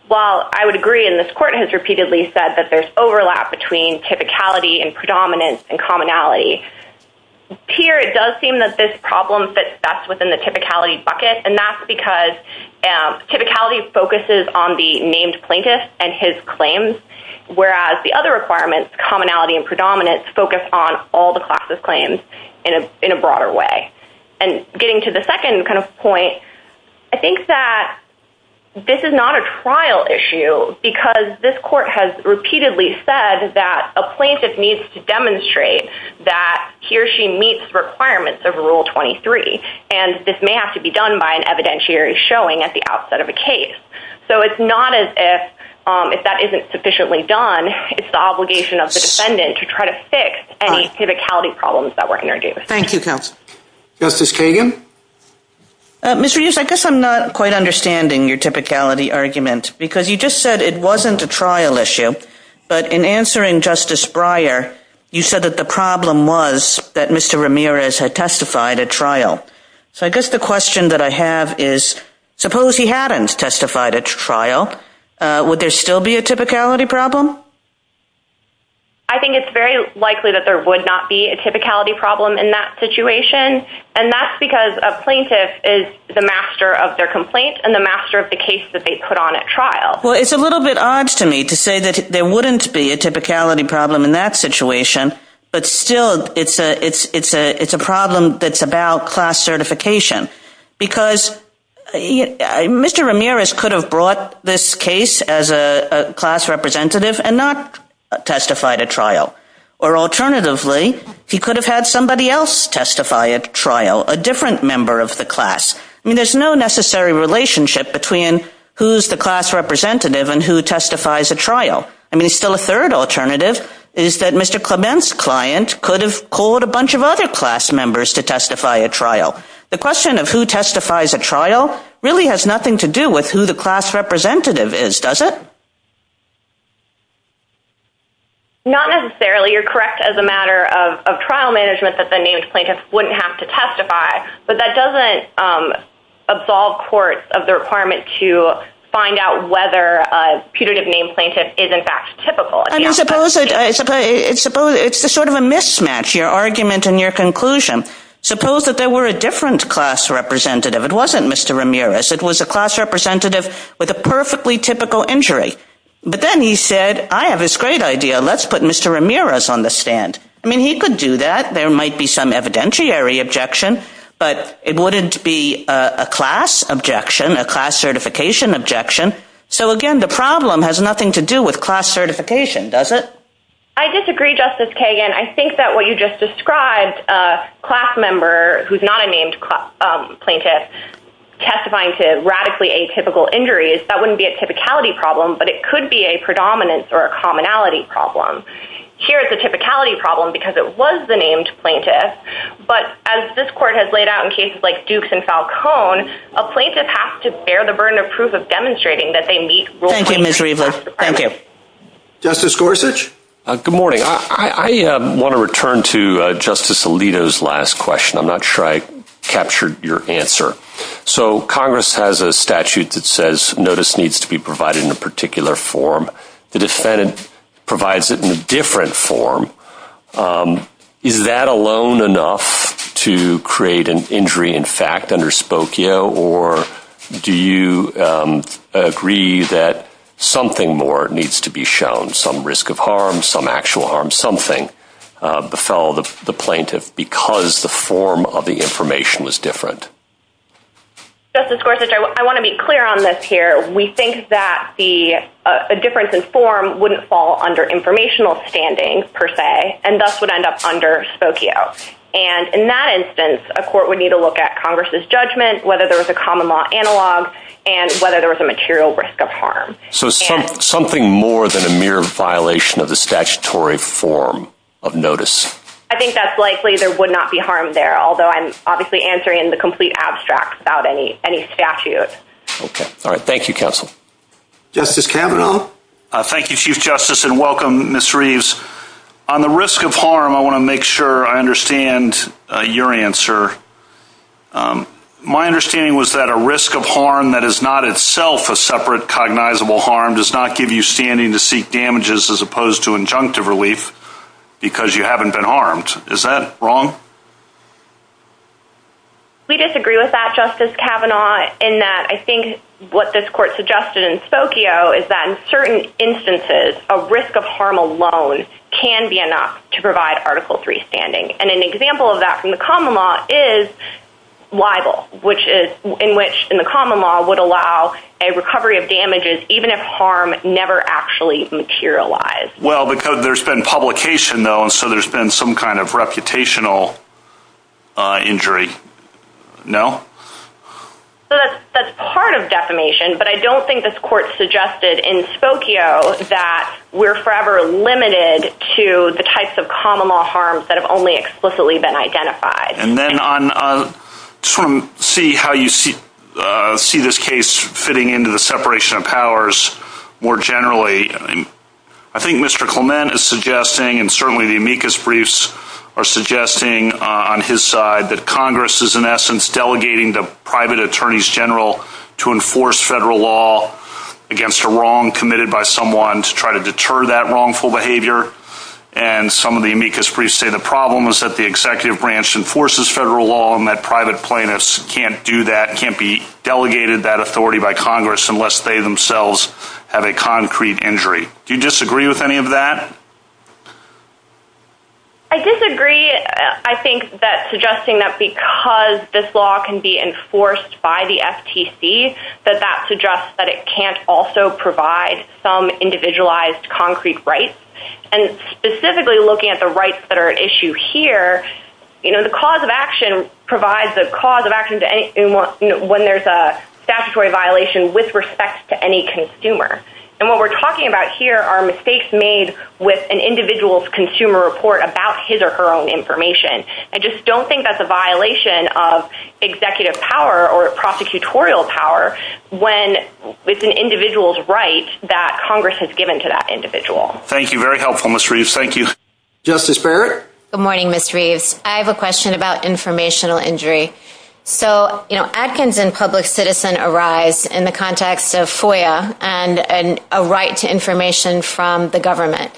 While I would agree, and this Court has repeatedly said, that there's overlap between typicality and predominance and commonality, here it does seem that this problem fits best within the typicality bucket, and that's because typicality focuses on the named plaintiff and his claims, whereas the other requirements, commonality and predominance, focus on all the class's claims in a broader way. And getting to the second kind of point, I think that this is not a trial issue, and I think that the defendant's claim is that she or he meets the requirements of Rule 23, and this may have to be done by an evidentiary showing at the outset of a case. So it's not as if that isn't sufficiently done. It's the obligation of the defendant to try to fix any typicality problems that were introduced. Thank you, counsel. Justice Kagan? Mr. Hughes, I guess I'm not quite understanding your typicality argument, because you just said it wasn't a trial issue, but in answering Justice Breyer, you said that the problem was that Mr. Ramirez had testified at trial. So I guess the question that I have is, suppose he hadn't testified at trial, would there still be a typicality problem? I think it's very likely that there would not be a typicality problem in that situation, and that's because a plaintiff is the master of their complaint and the master of the case that they put on at trial. Well, it's a little bit odd to me to say that there wouldn't be a typicality problem in that situation, but still it's a problem that's about class certification, because Mr. Ramirez could have brought this case as a class representative and not testified at trial, or alternatively, he could have had somebody else testify at trial, a different member of the class. I mean, there's no necessary relationship between who's the class representative and who testifies at trial. I mean, still a third alternative is that Mr. Clement's client could have called a bunch of other class members to testify at trial. The question of who testifies at trial really has nothing to do with who the class representative is, does it? Not necessarily. You're correct as a matter of trial management that the named plaintiff wouldn't have to testify, but that doesn't absolve courts of the requirement to find out whether a putative named plaintiff is, in fact, typical. I suppose it's sort of a mismatch, your argument and your conclusion. Suppose that there were a different class representative. It wasn't Mr. Ramirez. It was a class representative with a perfectly typical injury, but then he said, I have this great idea. Let's put Mr. Ramirez on the stand. I mean, he could do that. There might be some evidentiary objection, but it wouldn't be a class objection, a class certification objection. So, again, the problem has nothing to do with class certification, does it? I disagree, Justice Kagan. I think that what you just described, a class member who's not a named plaintiff testifying to radically atypical injuries, that wouldn't be a typicality problem, but it could be a predominance or a commonality problem. Here, it's a typicality problem because it was the named plaintiff, but as this court has laid out in cases like Dukes and Falcone, a plaintiff has to bear the burden of proof of demonstrating that they meet rules. Thank you, Ms. Rivas. Thank you. Justice Gorsuch? Good morning. I want to return to Justice Alito's last question. I'm not sure I captured your answer. So, Congress has a statute that says notice needs to be provided in a particular form. The defendant provides it in a different form. Is that alone enough to create an injury in fact under Spokio, or do you agree that something more needs to be shown, some risk of harm, some actual harm, something befell the plaintiff because the form of the information was different? Justice Gorsuch, I want to be clear on this here. We think that a difference in form wouldn't fall under informational standing, per se, and thus would end up under Spokio. And in that instance, a court would need to look at Congress's judgment, whether there was a common law analog, and whether there was a material risk of harm. So something more than a mere violation of the statutory form of notice? I think that's likely there would not be harm there, although I'm obviously answering in the complete abstract about any statute. Okay. All right. Thank you, counsel. Justice Kavanaugh? Thank you, Chief Justice, and welcome, Ms. Reeves. On the risk of harm, I want to make sure I understand your answer. My understanding was that a risk of harm that is not itself a separate cognizable harm does not give you standing to seek damages as opposed to injunctive relief because you haven't been harmed. Is that wrong? We disagree with that, Justice Kavanaugh, in that I think what this court suggested in Spokio is that in certain instances, a risk of harm alone can be enough to provide Article III standing. And an example of that from the common law is libel, in which the common law would allow a recovery of damages even if harm never actually materialized. Well, because there's been publication, though, so there's been some kind of reputational injury. No? That's part of defamation, but I don't think this court suggested in Spokio that we're forever limited to the types of common law harms that have only explicitly been identified. And then to see how you see this case fitting into the separation of powers more generally, I think Mr. Clement is suggesting, and certainly the amicus briefs are suggesting on his side, that Congress is in essence delegating the private attorneys general to enforce federal law against a wrong committed by someone to try to deter that wrongful behavior. And some of the amicus briefs say the problem is that the executive branch enforces federal law and that private plaintiffs can't do that, can't be delegated that authority by Congress unless they themselves have a concrete injury. Do you disagree with any of that? I disagree. I think that suggesting that because this law can be enforced by the FTC, that that suggests that it can't also provide some individualized concrete rights. And specifically looking at the rights that are at issue here, the cause of action provides the cause of action when there's a statutory violation with respect to any consumer. And what we're talking about here are mistakes made with an individual's consumer report about his or her own information. I just don't think that's a violation of executive power or prosecutorial power when it's an individual's right that Congress has given to that individual. Thank you. Very helpful, Ms. Reeves. Thank you. Justice Barrett? Good morning, Ms. Reeves. I have a question about informational injury. So Adkins and public citizen arise in the context of FOIA and a right to information from the government.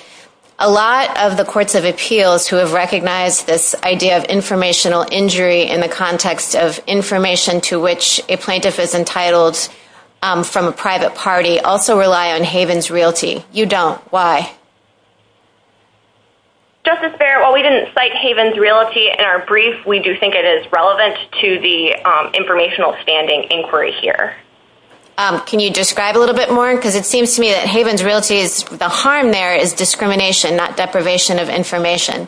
A lot of the courts of appeals who have recognized this idea of informational injury in the context of information to which a plaintiff is entitled from a private party also rely on Haven's Realty. You don't. Why? Justice Barrett, while we didn't cite Haven's Realty in our brief, we do think it is relevant to the informational standing inquiry here. Can you describe a little bit more? Because it seems to me that Haven's Realty, the harm there is discrimination, not deprivation of information.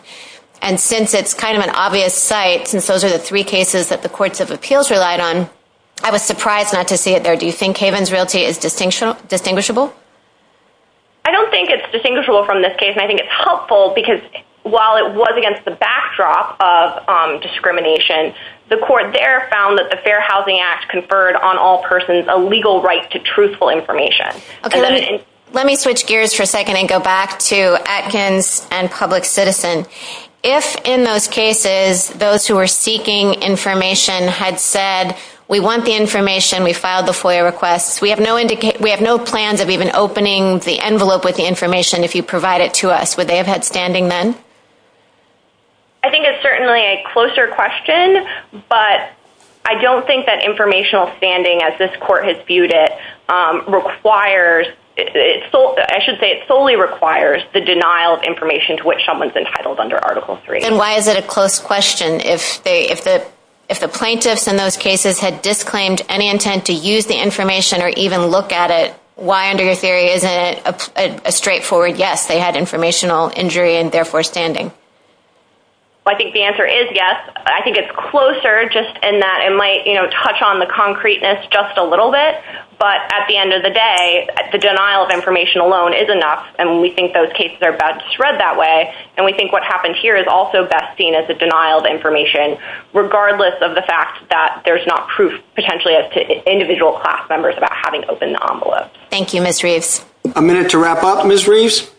And since it's kind of an obvious site, since those are the three cases that the courts of appeals relied on, I was surprised not to see it there. Do you think Haven's Realty is distinguishable? I don't think it's distinguishable from this case, and I think it's helpful because while it was against the backdrop of discrimination, the court there found that the Fair Housing Act conferred on all persons a legal right to truthful information. Let me switch gears for a second and go back to Adkins and public citizen. If in those cases those who were seeking information had said, we want the information, we filed the FOIA request, we have no plans of even opening the envelope with the information if you provide it to us, would they have had standing then? I think it's certainly a closer question, but I don't think that informational standing, as this court has viewed it, requires, I should say it solely requires the denial of information to which someone is entitled under Article III. And why is it a close question? If the plaintiffs in those cases had disclaimed any intent to use the information or even look at it, why under your theory isn't it a straightforward yes, they had informational injury and therefore standing? I think the answer is yes. I think it's closer just in that it might touch on the concreteness just a little bit, but at the end of the day, the denial of information alone is enough, and we think those cases are bad to spread that way, and we think what happens here is also best seen as the denial of information, regardless of the fact that there's not proof potentially relative to individual class members about having opened the envelope. Thank you, Ms. Reeves. A minute to wrap up, Ms. Reeves.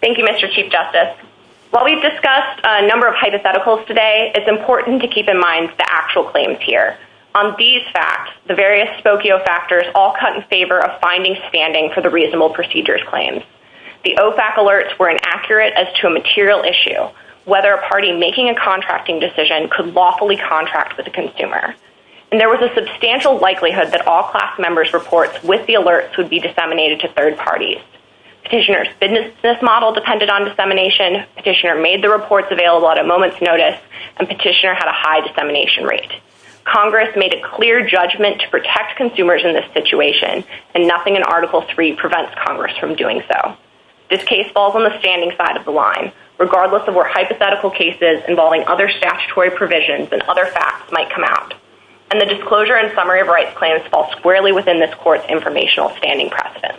Thank you, Mr. Chief Justice. While we've discussed a number of hypotheticals today, it's important to keep in mind the actual claims here. On these facts, the various spokio factors all cut in favor of finding standing for the reasonable procedures claims. The OFAC alerts were inaccurate as to a material issue, whether a party making a contracting decision could lawfully contract with a consumer. And there was a substantial likelihood that all class members' reports with the alerts would be disseminated to third parties. Petitioner's business model depended on dissemination. Petitioner made the reports available at a moment's notice, and Petitioner had a high dissemination rate. Congress made a clear judgment to protect consumers in this situation, and nothing in Article III prevents Congress from doing so. This case falls on the standing side of the line, regardless of what hypothetical cases involving other statutory provisions and other facts might come out. And the disclosure and summary of rights claims fall squarely within this court's informational standing precedent.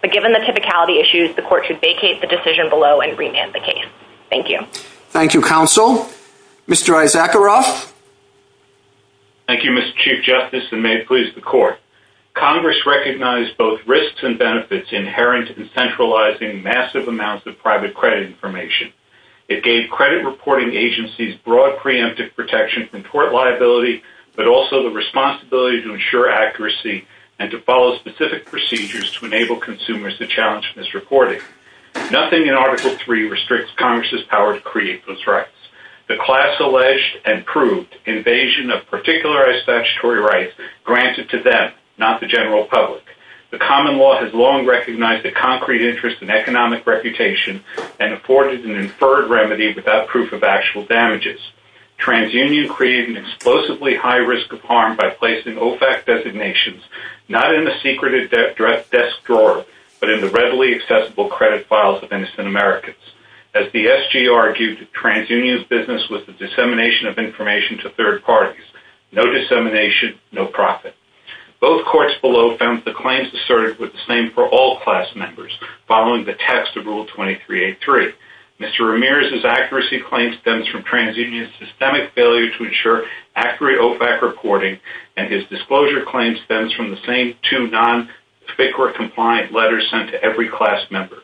But given the typicality issues, the court should vacate the decision below and remand the case. Thank you. Thank you, Counsel. Mr. Isaaceroth? Thank you, Mr. Chief Justice, and may it please the Court. Congress recognized both risks and benefits inherent in centralizing massive amounts of private credit information. It gave credit reporting agencies broad preemptive protection from court liability, but also the responsibility to ensure accuracy and to follow specific procedures to enable consumers to challenge misreporting. Nothing in Article III restricts Congress's power to create those rights. The class alleged and proved invasion of particularized statutory rights granted to them, not the general public. The common law has long recognized the concrete interest in economic reputation and afforded an inferred remedy without proof of actual damages. TransUnion created an explosively high risk of harm by placing OFAC designations, not in the secretive desk drawer, but in the readily accessible credit files of innocent Americans. As the SG argued, TransUnion's business was the dissemination of information to third parties. No dissemination, no profit. Both courts below found the claims asserted were the same for all class members, following the text of Rule 2383. Mr. Ramirez's accuracy claim stems from TransUnion's systemic failure to ensure accurate OFAC reporting, and his disclosure claim stems from the same two non-FICRA-compliant letters sent to every class member.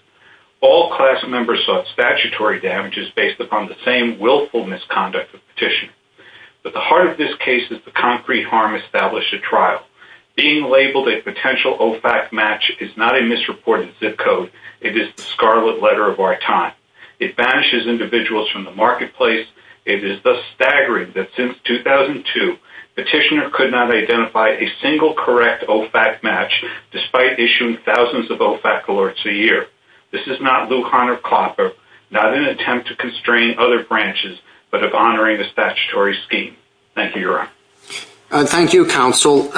All class members sought statutory damages based upon the same willful misconduct of the petitioner. Being labeled a potential OFAC match is not a misreported zip code. It is the scarlet letter of our time. It banishes individuals from the marketplace. It is thus staggering that since 2002, the petitioner could not identify a single correct OFAC match, despite issuing thousands of OFAC alerts a year. This is not Luke-Honor-Clopper, not an attempt to constrain other branches, but of honoring a statutory scheme. Thank you, Your Honor. Thank you, Counsel.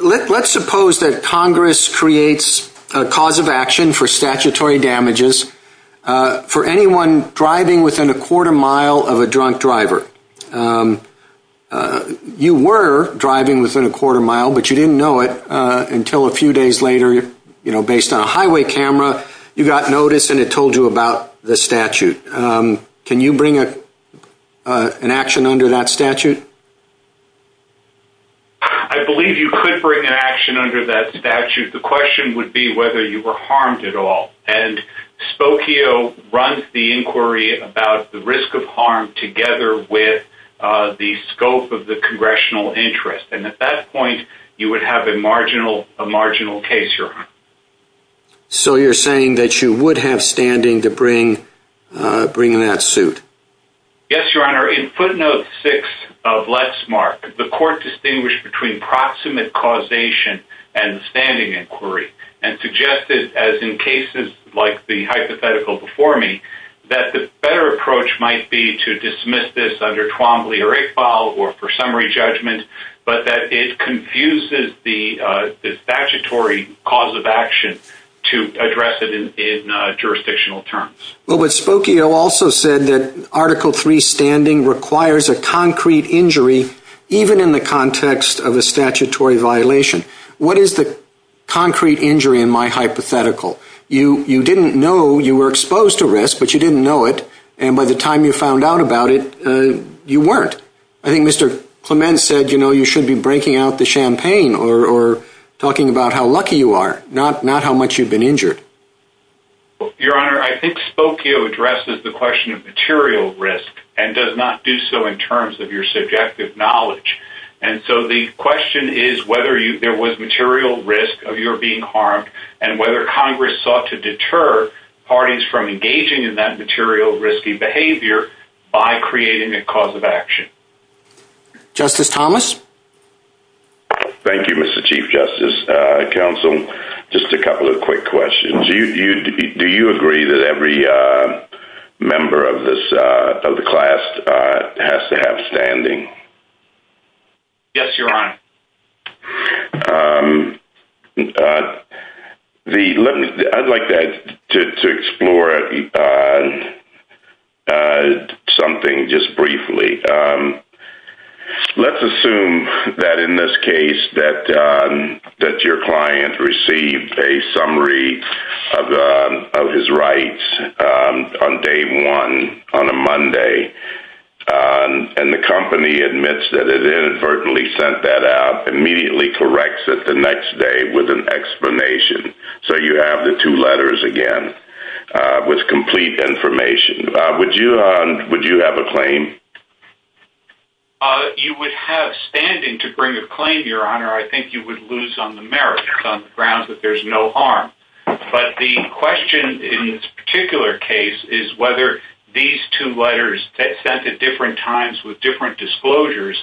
Let's suppose that Congress creates a cause of action for statutory damages for anyone driving within a quarter mile of a drunk driver. You were driving within a quarter mile, but you didn't know it until a few days later. Based on a highway camera, you got notice and it told you about the statute. Can you bring an action under that statute? I believe you could bring an action under that statute. The question would be whether you were harmed at all. Spokio runs the inquiry about the risk of harm together with the scope of the congressional interest. At that point, you would have a marginal case, Your Honor. So you're saying that you would have standing to bring that suit? Yes, Your Honor. In footnote 6 of Lexmark, the court distinguished between proximate causation and standing inquiry and suggested, as in cases like the hypothetical before me, that the better approach might be to dismiss this under Trombley or Iqbal or for summary judgment, but that it confuses the statutory cause of action to address it in jurisdictional terms. Well, but Spokio also said that Article III standing requires a concrete injury even in the context of a statutory violation. What is the concrete injury in my hypothetical? You didn't know you were exposed to risk, but you didn't know it, and by the time you found out about it, you weren't. I think Mr. Clement said, you know, you should be breaking out the champagne or talking about how lucky you are, not how much you've been injured. Your Honor, I think Spokio addresses the question of material risk and does not do so in terms of your subjective knowledge. And so the question is whether there was material risk of your being harmed and whether Congress sought to deter parties from engaging in that material risky behavior by creating a cause of action. Justice Thomas? Thank you, Mr. Chief Justice, Counsel. Just a couple of quick questions. Do you agree that every member of the class has to have standing? Yes, Your Honor. I'd like to explore something just briefly. Let's assume that in this case that your client received a summary of his rights on day one on a Monday, and the company admits that it inadvertently sent that out, immediately corrects it the next day with an explanation. So you have the two letters again with complete information. Would you have a claim? You would have standing to bring a claim, Your Honor. I think you would lose on the merits on the grounds that there's no harm. But the question in this particular case is whether these two letters sent at different times with different disclosures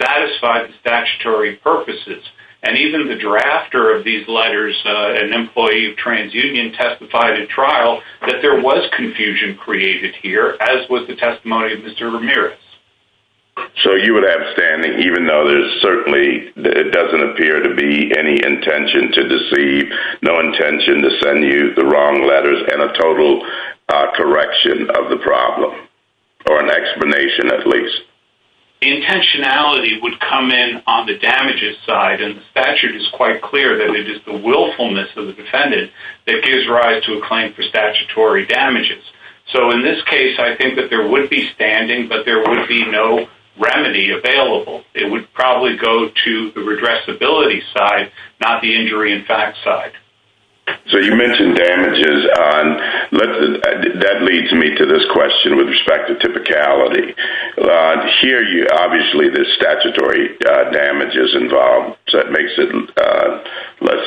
satisfy the statutory purposes. And even the drafter of these letters, an employee of TransUnion, testified at trial that there was confusion created here, as was the testimony of Mr. Ramirez. So you would have standing, even though there's certainly – it doesn't appear to be any intention to deceive, no intention to send you the wrong letters and a total correction of the problem or an explanation at least. Intentionality would come in on the damages side, and the statute is quite clear that it is the willfulness of the defendant that gives rise to a claim for statutory damages. So in this case, I think that there would be standing, but there would be no remedy available. It would probably go to the redressability side, not the injury in fact side. So you mentioned damages. That leads me to this question with respect to typicality. Here, obviously, there's statutory damages involved, so that makes it less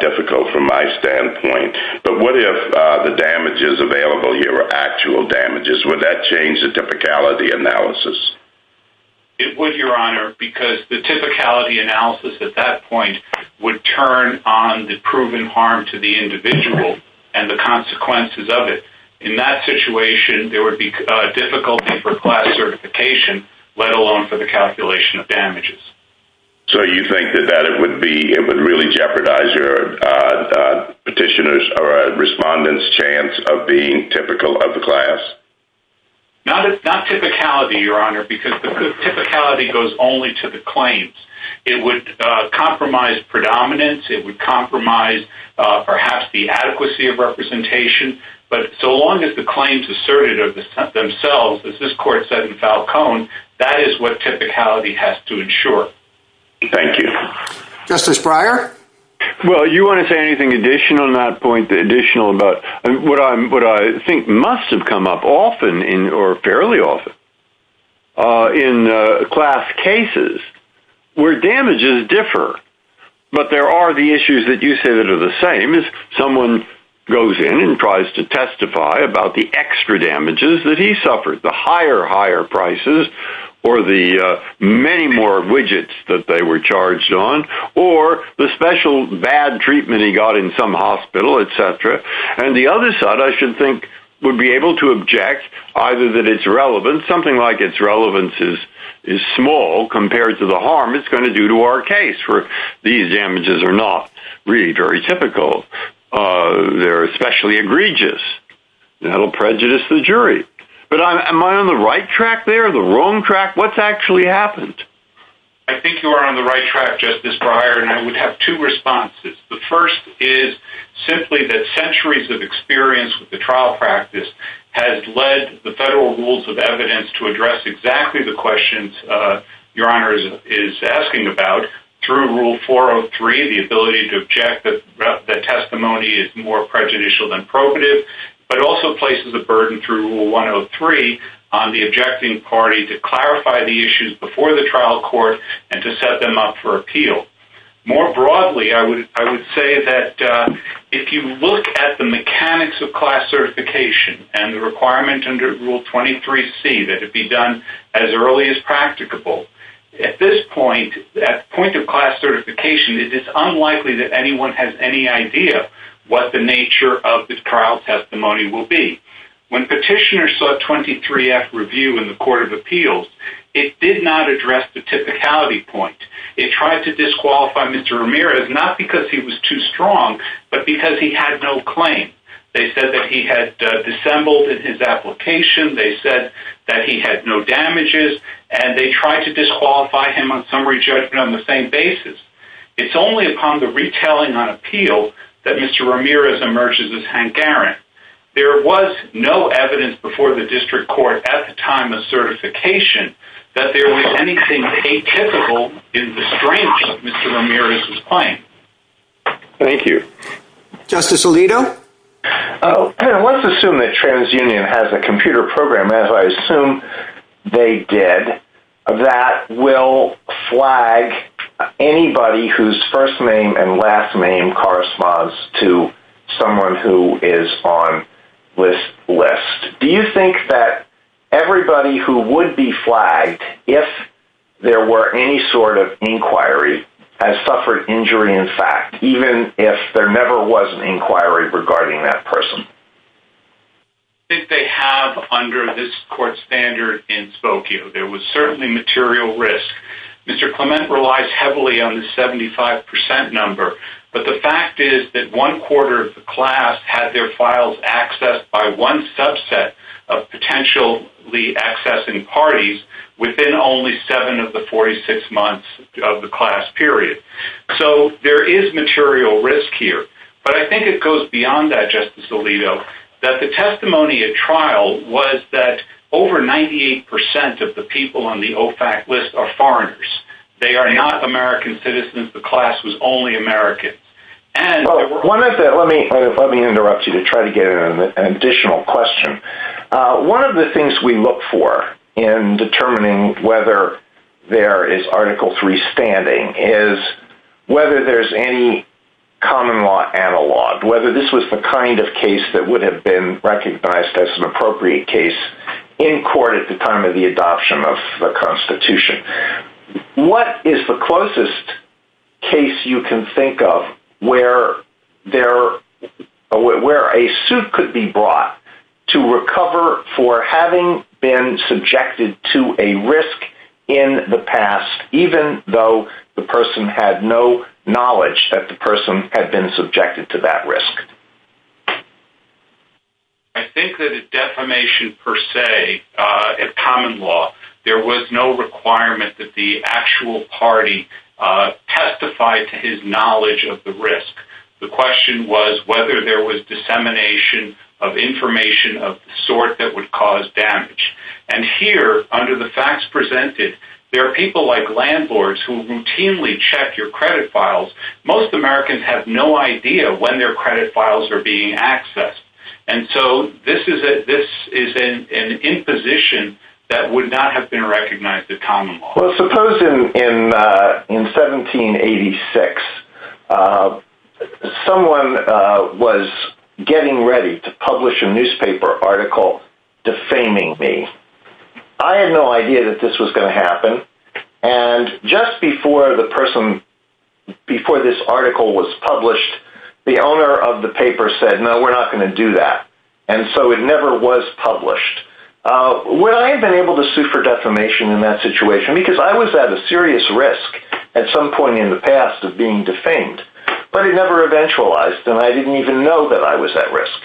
difficult from my standpoint. But what if the damages available here are actual damages? Would that change the typicality analysis? It would, Your Honor, because the typicality analysis at that point would turn on the proven harm to the individual and the consequences of it. In that situation, there would be difficulty for class certification, let alone for the calculation of damages. So you think that it would really jeopardize your petitioner's or respondent's chance of being typical of the class? Not typicality, Your Honor, because the typicality goes only to the claims. It would compromise predominance. It would compromise perhaps the adequacy of representation. But so long as the claims asserted themselves, as this court said in Falcone, that is what typicality has to ensure. Thank you. Justice Breyer? Well, you want to say anything additional on that point? What I think must have come up often or fairly often in class cases where damages differ, but there are the issues that you say that are the same, is someone goes in and tries to testify about the extra damages that he suffered, the higher, higher prices, or the many more widgets that they were charged on, or the special bad treatment he got in some hospital, et cetera. And the other side, I should think, would be able to object, either that it's relevant. Something like it's relevance is small compared to the harm it's going to do to our case where these damages are not really very typical. They're especially egregious. That will prejudice the jury. But am I on the right track there, the wrong track? What's actually happened? I think you are on the right track, Justice Breyer, and I would have two responses. The first is simply that centuries of experience with the trial practice has led the federal rules of evidence to address exactly the questions Your Honor is asking about through Rule 403, the ability to object that testimony is more prejudicial than probative, but also places a burden through Rule 103 on the objecting party to clarify the issues before the trial court More broadly, I would say that if you look at the mechanics of class certification and the requirement under Rule 23C that it be done as early as practicable, at this point, at the point of class certification, it's unlikely that anyone has any idea what the nature of the trial testimony will be. When petitioners saw 23F review in the Court of Appeals, it did not address the typicality point. It tried to disqualify Mr. Ramirez, not because he was too strong, but because he had no claim. They said that he had dissembled in his application, they said that he had no damages, and they tried to disqualify him on summary judgment on the same basis. It's only upon the retelling of an appeal that Mr. Ramirez emerges as hungarian. There was no evidence before the district court at the time of certification that there was anything atypical in the strength of Mr. Ramirez's claim. Thank you. Justice Alito? Let's assume that TransUnion has a computer program, as I assume they did, that will flag anybody whose first name and last name corresponds to someone who is on this list. Do you think that everybody who would be flagged if there were any sort of inquiry has suffered injury in fact, even if there never was an inquiry regarding that person? I think they have under this court standard in Spokane. There was certainly material risk. Mr. Clement relies heavily on the 75% number, but the fact is that one quarter of the class had their files accessed by one subset of potentially accessing parties within only seven of the 46 months of the class period. So there is material risk here, but I think it goes beyond that, Justice Alito, that the testimony at trial was that over 98% of the people on the OFAC list are foreigners. They are not American citizens. The class was only American. Let me interrupt you to try to get an additional question. One of the things we look for in determining whether there is Article III standing is whether there is any common law analog, whether this was the kind of case that occurred at the time of the adoption of the Constitution. What is the closest case you can think of where a suit could be brought to recover for having been subjected to a risk in the past, even though the person had no knowledge that the person had been subjected to that risk? I think that at defamation per se, at common law, there was no requirement that the actual party testify to his knowledge of the risk. The question was whether there was dissemination of information of the sort that would cause damage. And here, under the facts presented, there are people like landlords who routinely check your credit files. Most Americans have no idea when their credit files are being accessed. And so this is an imposition that would not have been recognized as common law. Suppose in 1786, someone was getting ready to publish a newspaper article defaming me. I had no idea that this was going to happen. And just before this article was published, the owner of the paper said, no, we're not going to do that. And so it never was published. Would I have been able to sue for defamation in that situation? Because I was at a serious risk at some point in the past of being defamed. But it never eventualized, and I didn't even know that I was at risk.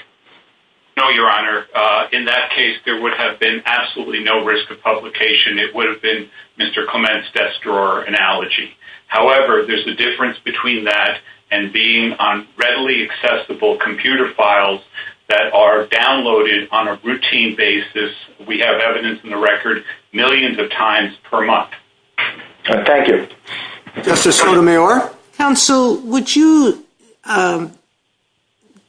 No, Your Honor. In that case, there would have been absolutely no risk of publication. It would have been Mr. Clement's desk drawer analogy. However, there's a difference between that and being on readily accessible computer files that are downloaded on a routine basis. We have evidence in the record millions of times per month. Thank you. Justice Sotomayor? Counsel, would you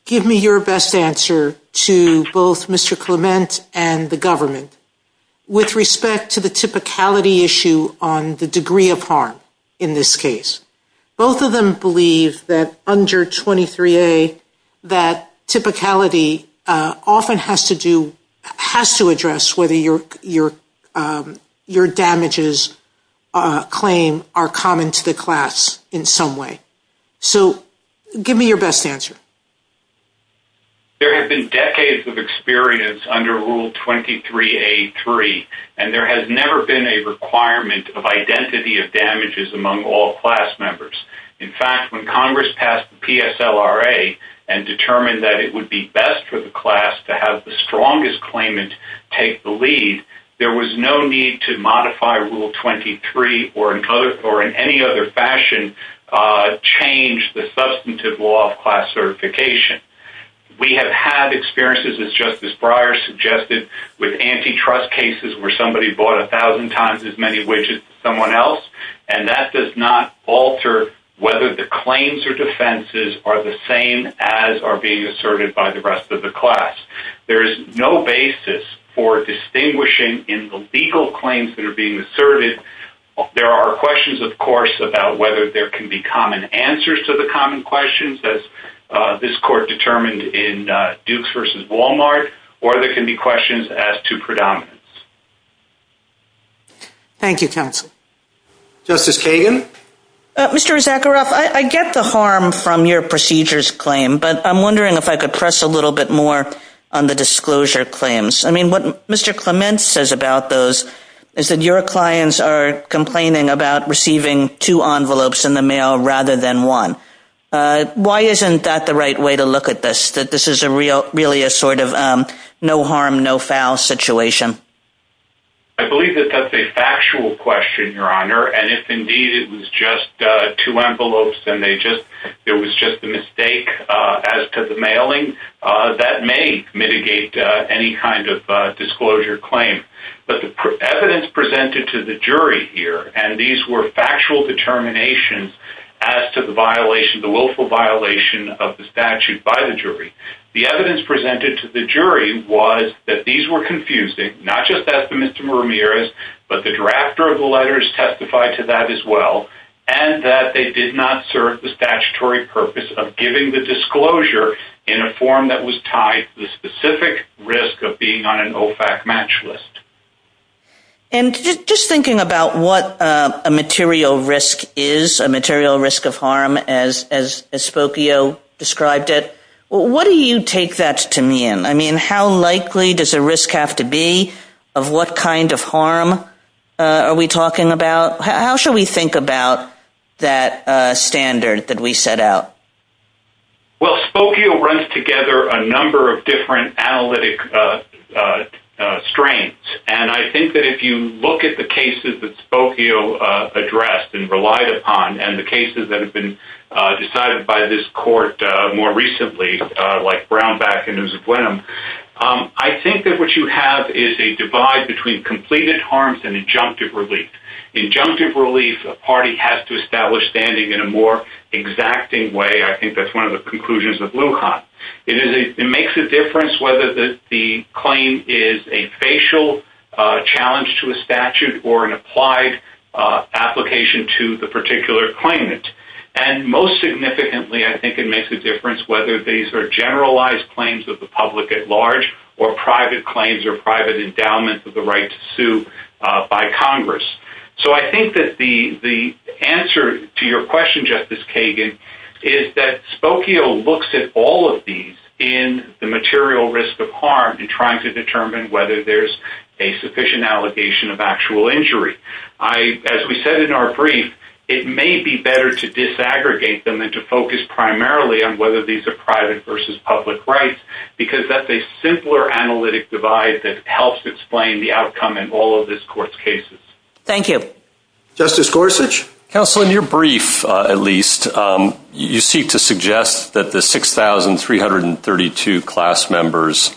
give me your best answer to both Mr. Clement and the government with respect to the typicality issue on the degree of harm in this case? Both of them believe that under 23A, that typicality often has to address whether your damages claim are common to the class in some way. So give me your best answer. There has been decades of experience under Rule 23A3, and there has never been a requirement of identity of damages among all class members. In fact, when Congress passed the PSLRA and determined that it would be best for the class to have the strongest claimant take the lead, there was no need to modify Rule 23 or in any other fashion change the substantive law of class certification. We have had experiences, as Justice Breyer suggested, with antitrust cases where somebody bought 1,000 times as many widgets as someone else, and that does not alter whether the claims or defenses are the same as are being asserted by the rest of the class. There is no basis for distinguishing in the legal claims that are being asserted. There are questions, of course, about whether there can be common answers to the common questions, as this court determined in Dukes v. Walmart, or there can be questions as to predominance. Thank you, counsel. Justice Kagan? Mr. Zakharoff, I get the harm from your procedures claim, but I'm wondering if I could press a little bit more on the disclosure claims. I mean, what Mr. Clement says about those is that your clients are complaining about receiving two envelopes in the mail rather than one. Why isn't that the right way to look at this, that this is really a sort of no harm, no foul situation? I believe that that's a factual question, Your Honor, and if indeed it was just two envelopes and it was just a mistake as to the mailing, that may mitigate any kind of disclosure claim. But the evidence presented to the jury here, and these were factual determinations as to the willful violation of the statute by the jury, the evidence presented to the jury was that these were confusing, not just as to Mr. Ramirez, but the drafter of the letters testified to that as well, and that they did not serve the statutory purpose of giving the disclosure in a form that was tied to the specific risk of being on an OFAC match list. And just thinking about what a material risk is, a material risk of harm, as Spokio described it, what do you take that to mean? I mean, how likely does a risk have to be? Of what kind of harm are we talking about? How should we think about that standard that we set out? Well, Spokio runs together a number of different analytic strains, and I think that if you look at the cases that Spokio addressed and relied upon and the cases that have been decided by this court more recently, like Brownback and Usablenum, I think that what you have is a divide between completed harms and injunctive relief. Injunctive relief, a party has to establish standing in a more exacting way. I think that's one of the conclusions of Lewcott. It makes a difference whether the claim is a facial challenge to a statute or an applied application to the particular claimant. And most significantly, I think it makes a difference whether these are generalized claims of the public at large or private claims or private endowments of the right to sue by Congress. So I think that the answer to your question, Justice Kagan, is that Spokio looks at all of these in the material risk of harm and trying to determine whether there's a sufficient allegation of actual injury. As we said in our brief, it may be better to disaggregate them and to focus primarily on whether these are private versus public rights, because that's a simpler analytic divide that helps explain the outcome in all of this court's cases. Thank you. Justice Gorsuch? Counsel, in your brief, at least, you seek to suggest that the 6,332 class members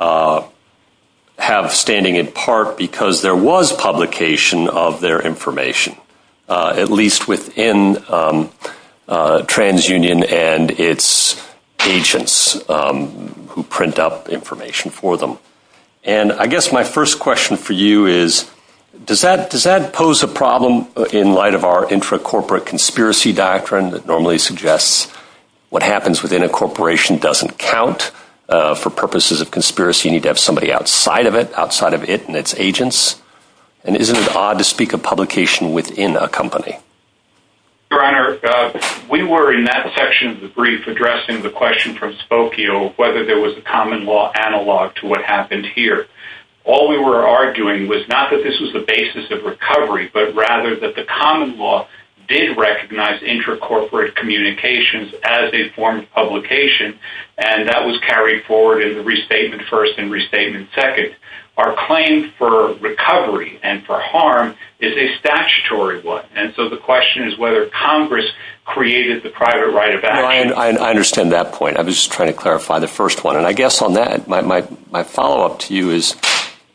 have standing in part because there was publication of their information, at least within TransUnion and its agents who print out information for them. And I guess my first question for you is, does that pose a problem in light of our intracorporate conspiracy doctrine that normally suggests what happens within a corporation doesn't count for purposes of conspiracy and you need to have somebody outside of it, outside of it and its agents? And isn't it odd to speak of publication within a company? Your Honor, we were in that section of the brief addressing the question from Spokio whether there was a common law analog to what happened here. All we were arguing was not that this was the basis of recovery, but rather that the common law did recognize intracorporate communications as a form of publication and that was carried forward in Restatement I and Restatement II. Our claim for recovery and for harm is a statutory one, and so the question is whether Congress created the private right of action. I understand that point. I was just trying to clarify the first one. And I guess on that, my follow-up to you is,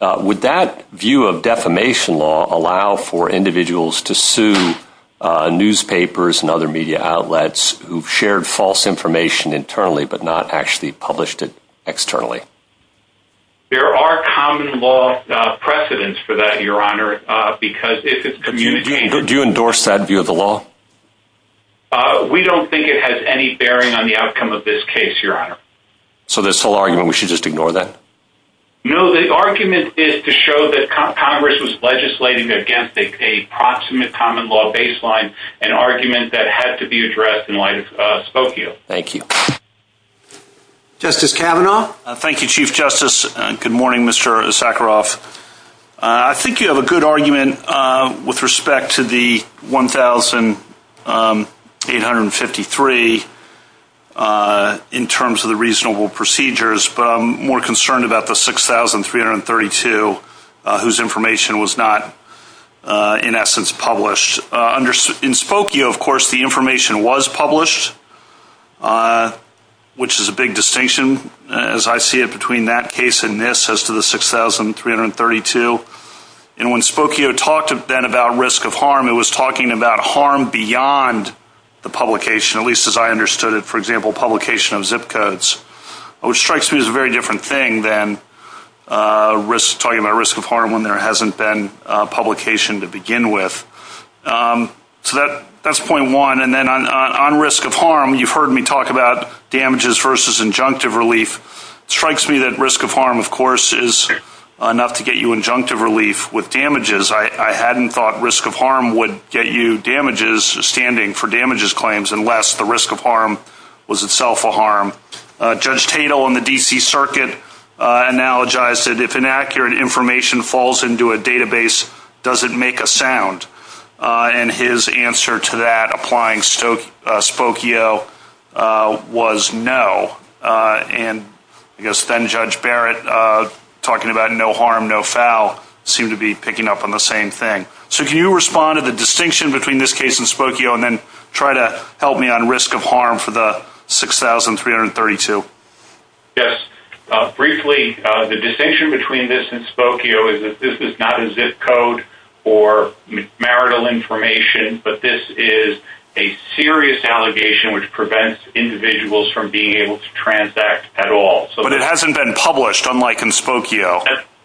would that view of defamation law allow for individuals to sue newspapers and other media outlets who've shared false information internally but not actually published it externally? There are common law precedents for that, Your Honor, because if it's communicated… Do you endorse that view of the law? We don't think it has any bearing on the outcome of this case, Your Honor. So this whole argument, we should just ignore that? No, the argument is to show that Congress was legislating against a proximate common law baseline, an argument that had to be addressed in light of Spokio. Thank you. Justice Kavanaugh? Thank you, Chief Justice. Good morning, Mr. Sakharov. I think you have a good argument with respect to the 1,853 in terms of the reasonable procedures, but I'm more concerned about the 6,332 whose information was not, in essence, published. In Spokio, of course, the information was published, which is a big distinction, as I see it, between that case and this as to the 6,332. And when Spokio talked then about risk of harm, it was talking about harm beyond the publication, at least as I understood it, for example, publication of zip codes, which strikes me as a very different thing than talking about risk of harm when there hasn't been publication to begin with. So that's point one. And then on risk of harm, you've heard me talk about damages versus injunctive relief. It strikes me that risk of harm, of course, is enough to get you injunctive relief with damages. I hadn't thought risk of harm would get you damages standing for damages claims unless the risk of harm was itself a harm. Judge Tatel on the D.C. Circuit analogized that if inaccurate information falls into a database, does it make a sound? And his answer to that, applying Spokio, was no. And I guess then-Judge Barrett, talking about no harm, no foul, seemed to be picking up on the same thing. So can you respond to the distinction between this case and Spokio and then try to help me on risk of harm for the 6,332? Yes. Briefly, the distinction between this and Spokio is that this is not a zip code or marital information, but this is a serious allegation which prevents individuals from being able to transact at all. But it hasn't been published, unlike in Spokio.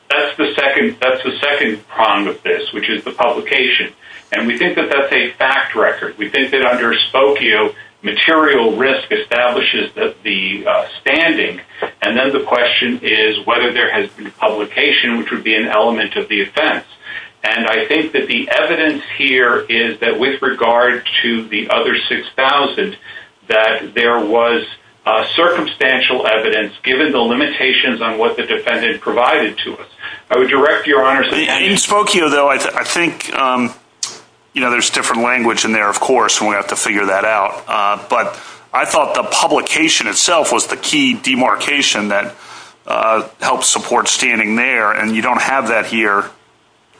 That's the second prong of this, which is the publication. And we think that that's a fact record. We think that under Spokio, material risk establishes the standing. And then the question is whether there has been publication, which would be an element of the offense. And I think that the evidence here is that with regard to the other 6,000, that there was circumstantial evidence, given the limitations on what the defendant provided to us. I would direct your honors to- In Spokio, though, I think there's different language in there, of course, and we have to figure that out. But I thought the publication itself was the key demarcation that helped support standing there, and you don't have that here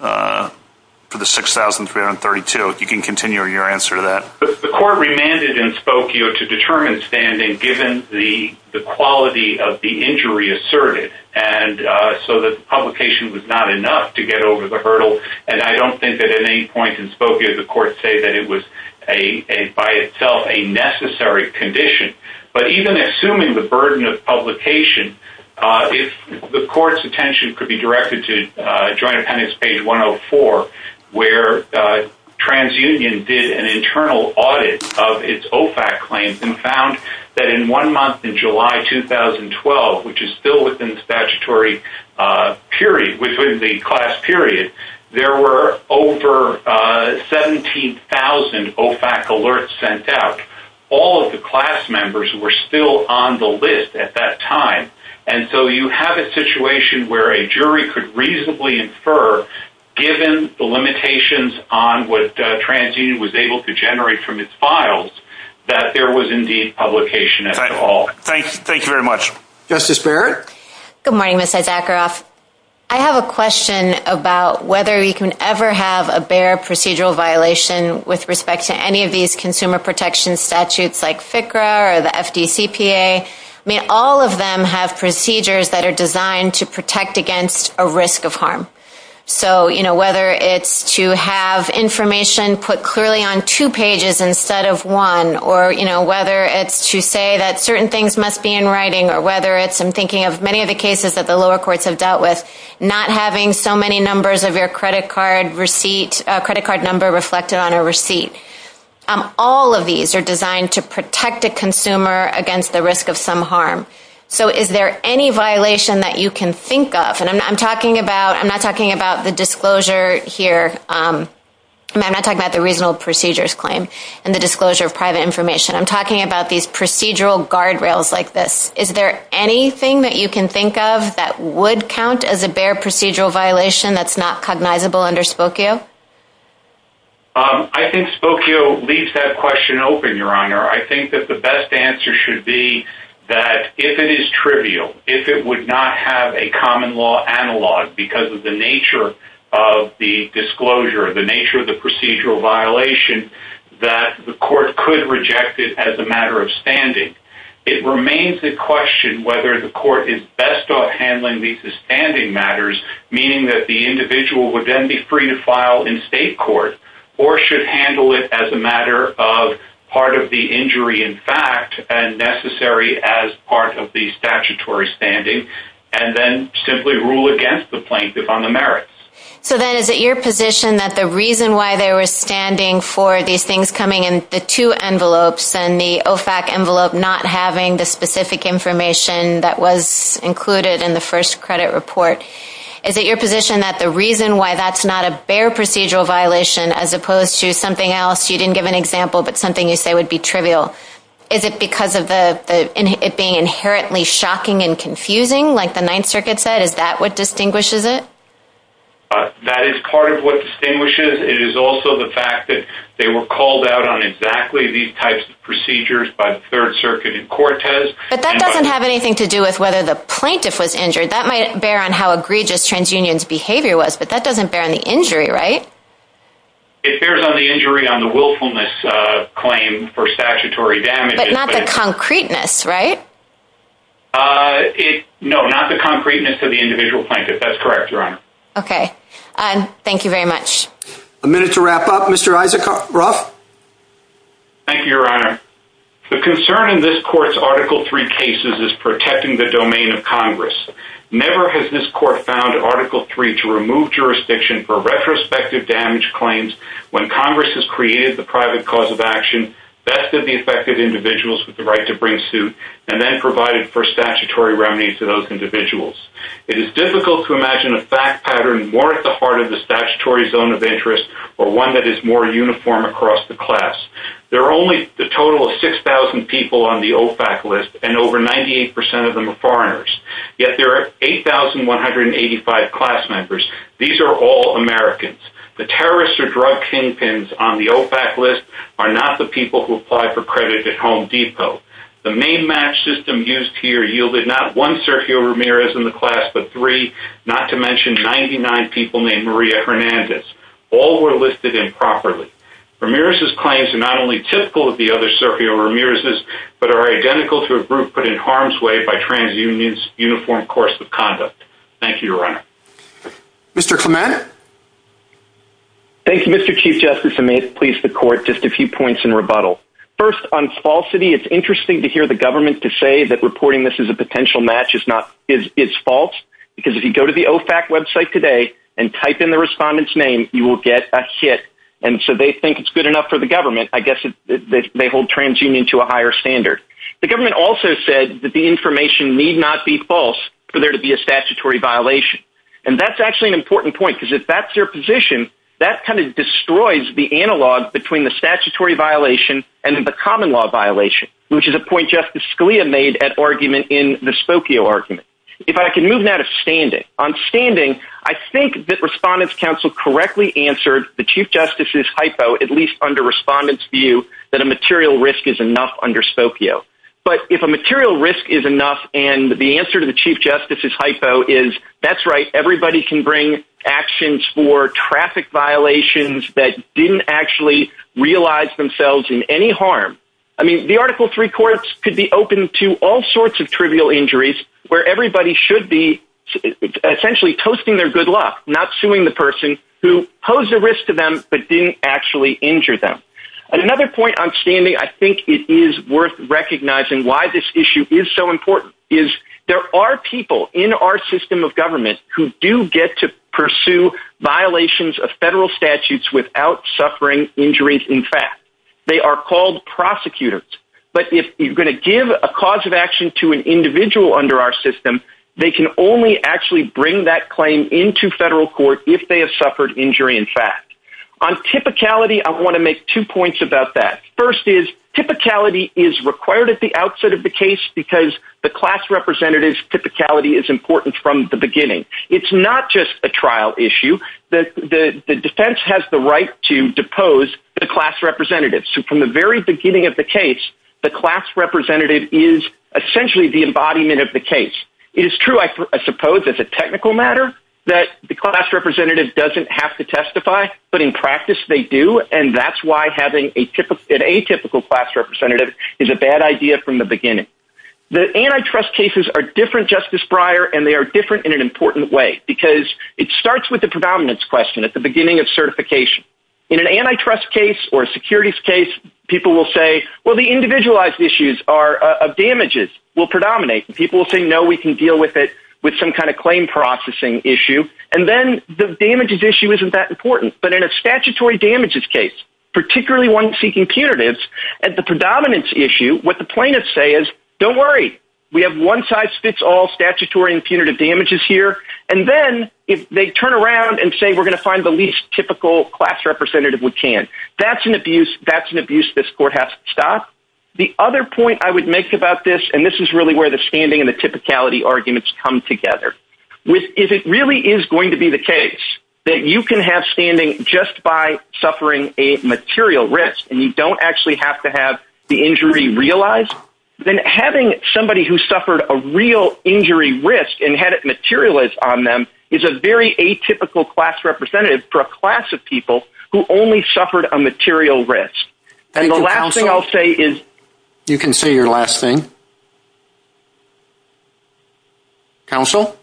for the 6,332. If you can continue your answer to that. The court remanded in Spokio to determine standing given the quality of the injury asserted, and so the publication was not enough to get over the hurdle. And I don't think that at any point in Spokio the court said that it was by itself a necessary condition. But even assuming the burden of publication, if the court's attention could be directed to Joint Appendix page 104, where TransUnion did an internal audit of its OFAC claims and found that in one month in July 2012, which is still within the statutory period, within the class period, there were over 17,000 OFAC alerts sent out. All of the class members were still on the list at that time, and so you have a situation where a jury could reasonably infer, given the limitations on what TransUnion was able to generate from its files, that there was indeed publication at all. Thank you very much. Justice Barrett? Good morning, Mr. Zakharoff. I have a question about whether you can ever have a bare procedural violation with respect to any of these consumer protection statutes like FCRA or the FDCPA. May all of them have procedures that are designed to protect against a risk of harm? So whether it's to have information put clearly on two pages instead of one, or whether it's to say that certain things must be in writing, or whether it's, I'm thinking of many of the cases that the lower courts have dealt with, not having so many numbers of your credit card number reflected on a receipt. All of these are designed to protect a consumer against the risk of some harm. So is there any violation that you can think of? I'm not talking about the disclosure here. I'm not talking about the regional procedures claim and the disclosure of private information. I'm talking about these procedural guardrails like this. Is there anything that you can think of that would count as a bare procedural violation that's not cognizable under Spokio? I think Spokio leaves that question open, Your Honor. I think that the best answer should be that if it is trivial, if it would not have a common law analog because of the nature of the disclosure, the nature of the procedural violation, that the court could reject it as a matter of standing. It remains to question whether the court is best off handling these as standing matters, meaning that the individual would then be free to file in state court or should handle it as a matter of part of the injury in fact and necessary as part of the statutory standing and then simply rule against the plaintiff on the merits. So then is it your position that the reason why they were standing for these things coming in the two envelopes and the OFAC envelope not having the specific information that was included in the first credit report, is it your position that the reason why that's not a bare procedural violation as opposed to something else you didn't give an example but something you say would be trivial, is it because of it being inherently shocking and confusing like the Ninth Circuit said? Is that what distinguishes it? That is part of what distinguishes. It is also the fact that they were called out on exactly these types of procedures by the Third Circuit and Cortez. But that doesn't have anything to do with whether the plaintiff was injured. That might bear on how egregious TransUnion's behavior was, but that doesn't bear on the injury, right? It bears on the injury on the willfulness claim for statutory damages. But not the concreteness, right? No, not the concreteness of the individual plaintiff. That's correct, Your Honor. Okay. Thank you very much. A minute to wrap up. Mr. Eisencroft? Thank you, Your Honor. The concern in this Court's Article III cases is protecting the domain of Congress. Never has this Court found Article III to remove jurisdiction for retrospective damage claims when Congress has created the private cause of action, vested the affected individuals with the right to bring suit, and then provided for statutory remedies to those individuals. It is difficult to imagine a fact pattern more at the heart of the statutory zone of interest or one that is more uniform across the class. There are only a total of 6,000 people on the OFAC list, and over 98% of them are foreigners. Yet there are 8,185 class members. These are all Americans. The terrorists or drug kingpins on the OFAC list are not the people who apply for credit at Home Depot. The name match system used here yielded not one Sergio Ramirez in the class but three, not to mention 99 people named Maria Hernandez. All were listed improperly. Ramirez's claims are not only typical of the other Sergio Ramirez's but are identical to a group put in harm's way by TransUnion's uniform course of conduct. Thank you, Your Honor. Mr. Clement. Thank you, Mr. Chief Justice, and may it please the Court just a few points in rebuttal. First, on falsity, it's interesting to hear the government to say that reporting this as a potential match is false because if you go to the OFAC website today and type in the respondent's name, you will get a hit. And so they think it's good enough for the government. I guess they hold TransUnion to a higher standard. The government also said that the information need not be false for there to be a statutory violation. And that's actually an important point because if that's their position, that kind of destroys the analog between the statutory violation and the common law violation, which is a point Justice Scalia made at argument in the Spokio argument. If I can move now to standing. On standing, I think that Respondent's Counsel correctly answered the Chief Justice's hypo, at least under Respondent's view, that a material risk is enough under Spokio. But if a material risk is enough and the answer to the Chief Justice's hypo is, that's right, everybody can bring actions for traffic violations that didn't actually realize themselves in any harm. I mean, the Article III courts could be open to all sorts of trivial injuries where everybody should be essentially toasting their good luck, not suing the person who posed a risk to them but didn't actually injure them. Another point on standing, I think it is worth recognizing why this issue is so important, is there are people in our system of government who do get to pursue violations of federal statutes without suffering injuries in fact. They are called prosecutors. But if you're going to give a cause of action to an individual under our system, they can only actually bring that claim into federal court if they have suffered injury in fact. On typicality, I want to make two points about that. First is typicality is required at the outset of the case because the class representative's typicality is important from the beginning. It's not just a trial issue. The defense has the right to depose the class representative. So from the very beginning of the case, the class representative is essentially the embodiment of the case. It is true I suppose it's a technical matter that the class representative doesn't have to testify, but in practice they do, and that's why having an atypical class representative is a bad idea from the beginning. The antitrust cases are different, Justice Breyer, and they are different in an important way because it starts with the predominance question at the beginning of certification. In an antitrust case or a securities case, people will say, well, the individualized issues of damages will predominate. People will say, no, we can deal with it with some kind of claim processing issue, and then the damages issue isn't that important. But in a statutory damages case, particularly one seeking punitives, at the predominance issue, what the plaintiffs say is, don't worry. We have one-size-fits-all statutory and punitive damages here, and then they turn around and say we're going to find the least typical class representative we can. That's an abuse this court has to stop. The other point I would make about this, and this is really where the standing and the typicality arguments come together. If it really is going to be the case that you can have standing just by suffering a material risk and you don't actually have to have the injury realized, then having somebody who suffered a real injury risk and had it materialized on them is a very atypical class representative for a class of people who only suffered a material risk. And the last thing I'll say is... You can say your last thing. Counsel?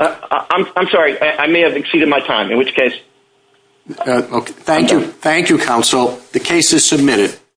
I'm sorry. I may have exceeded my time, in which case... Thank you, counsel. The case is submitted.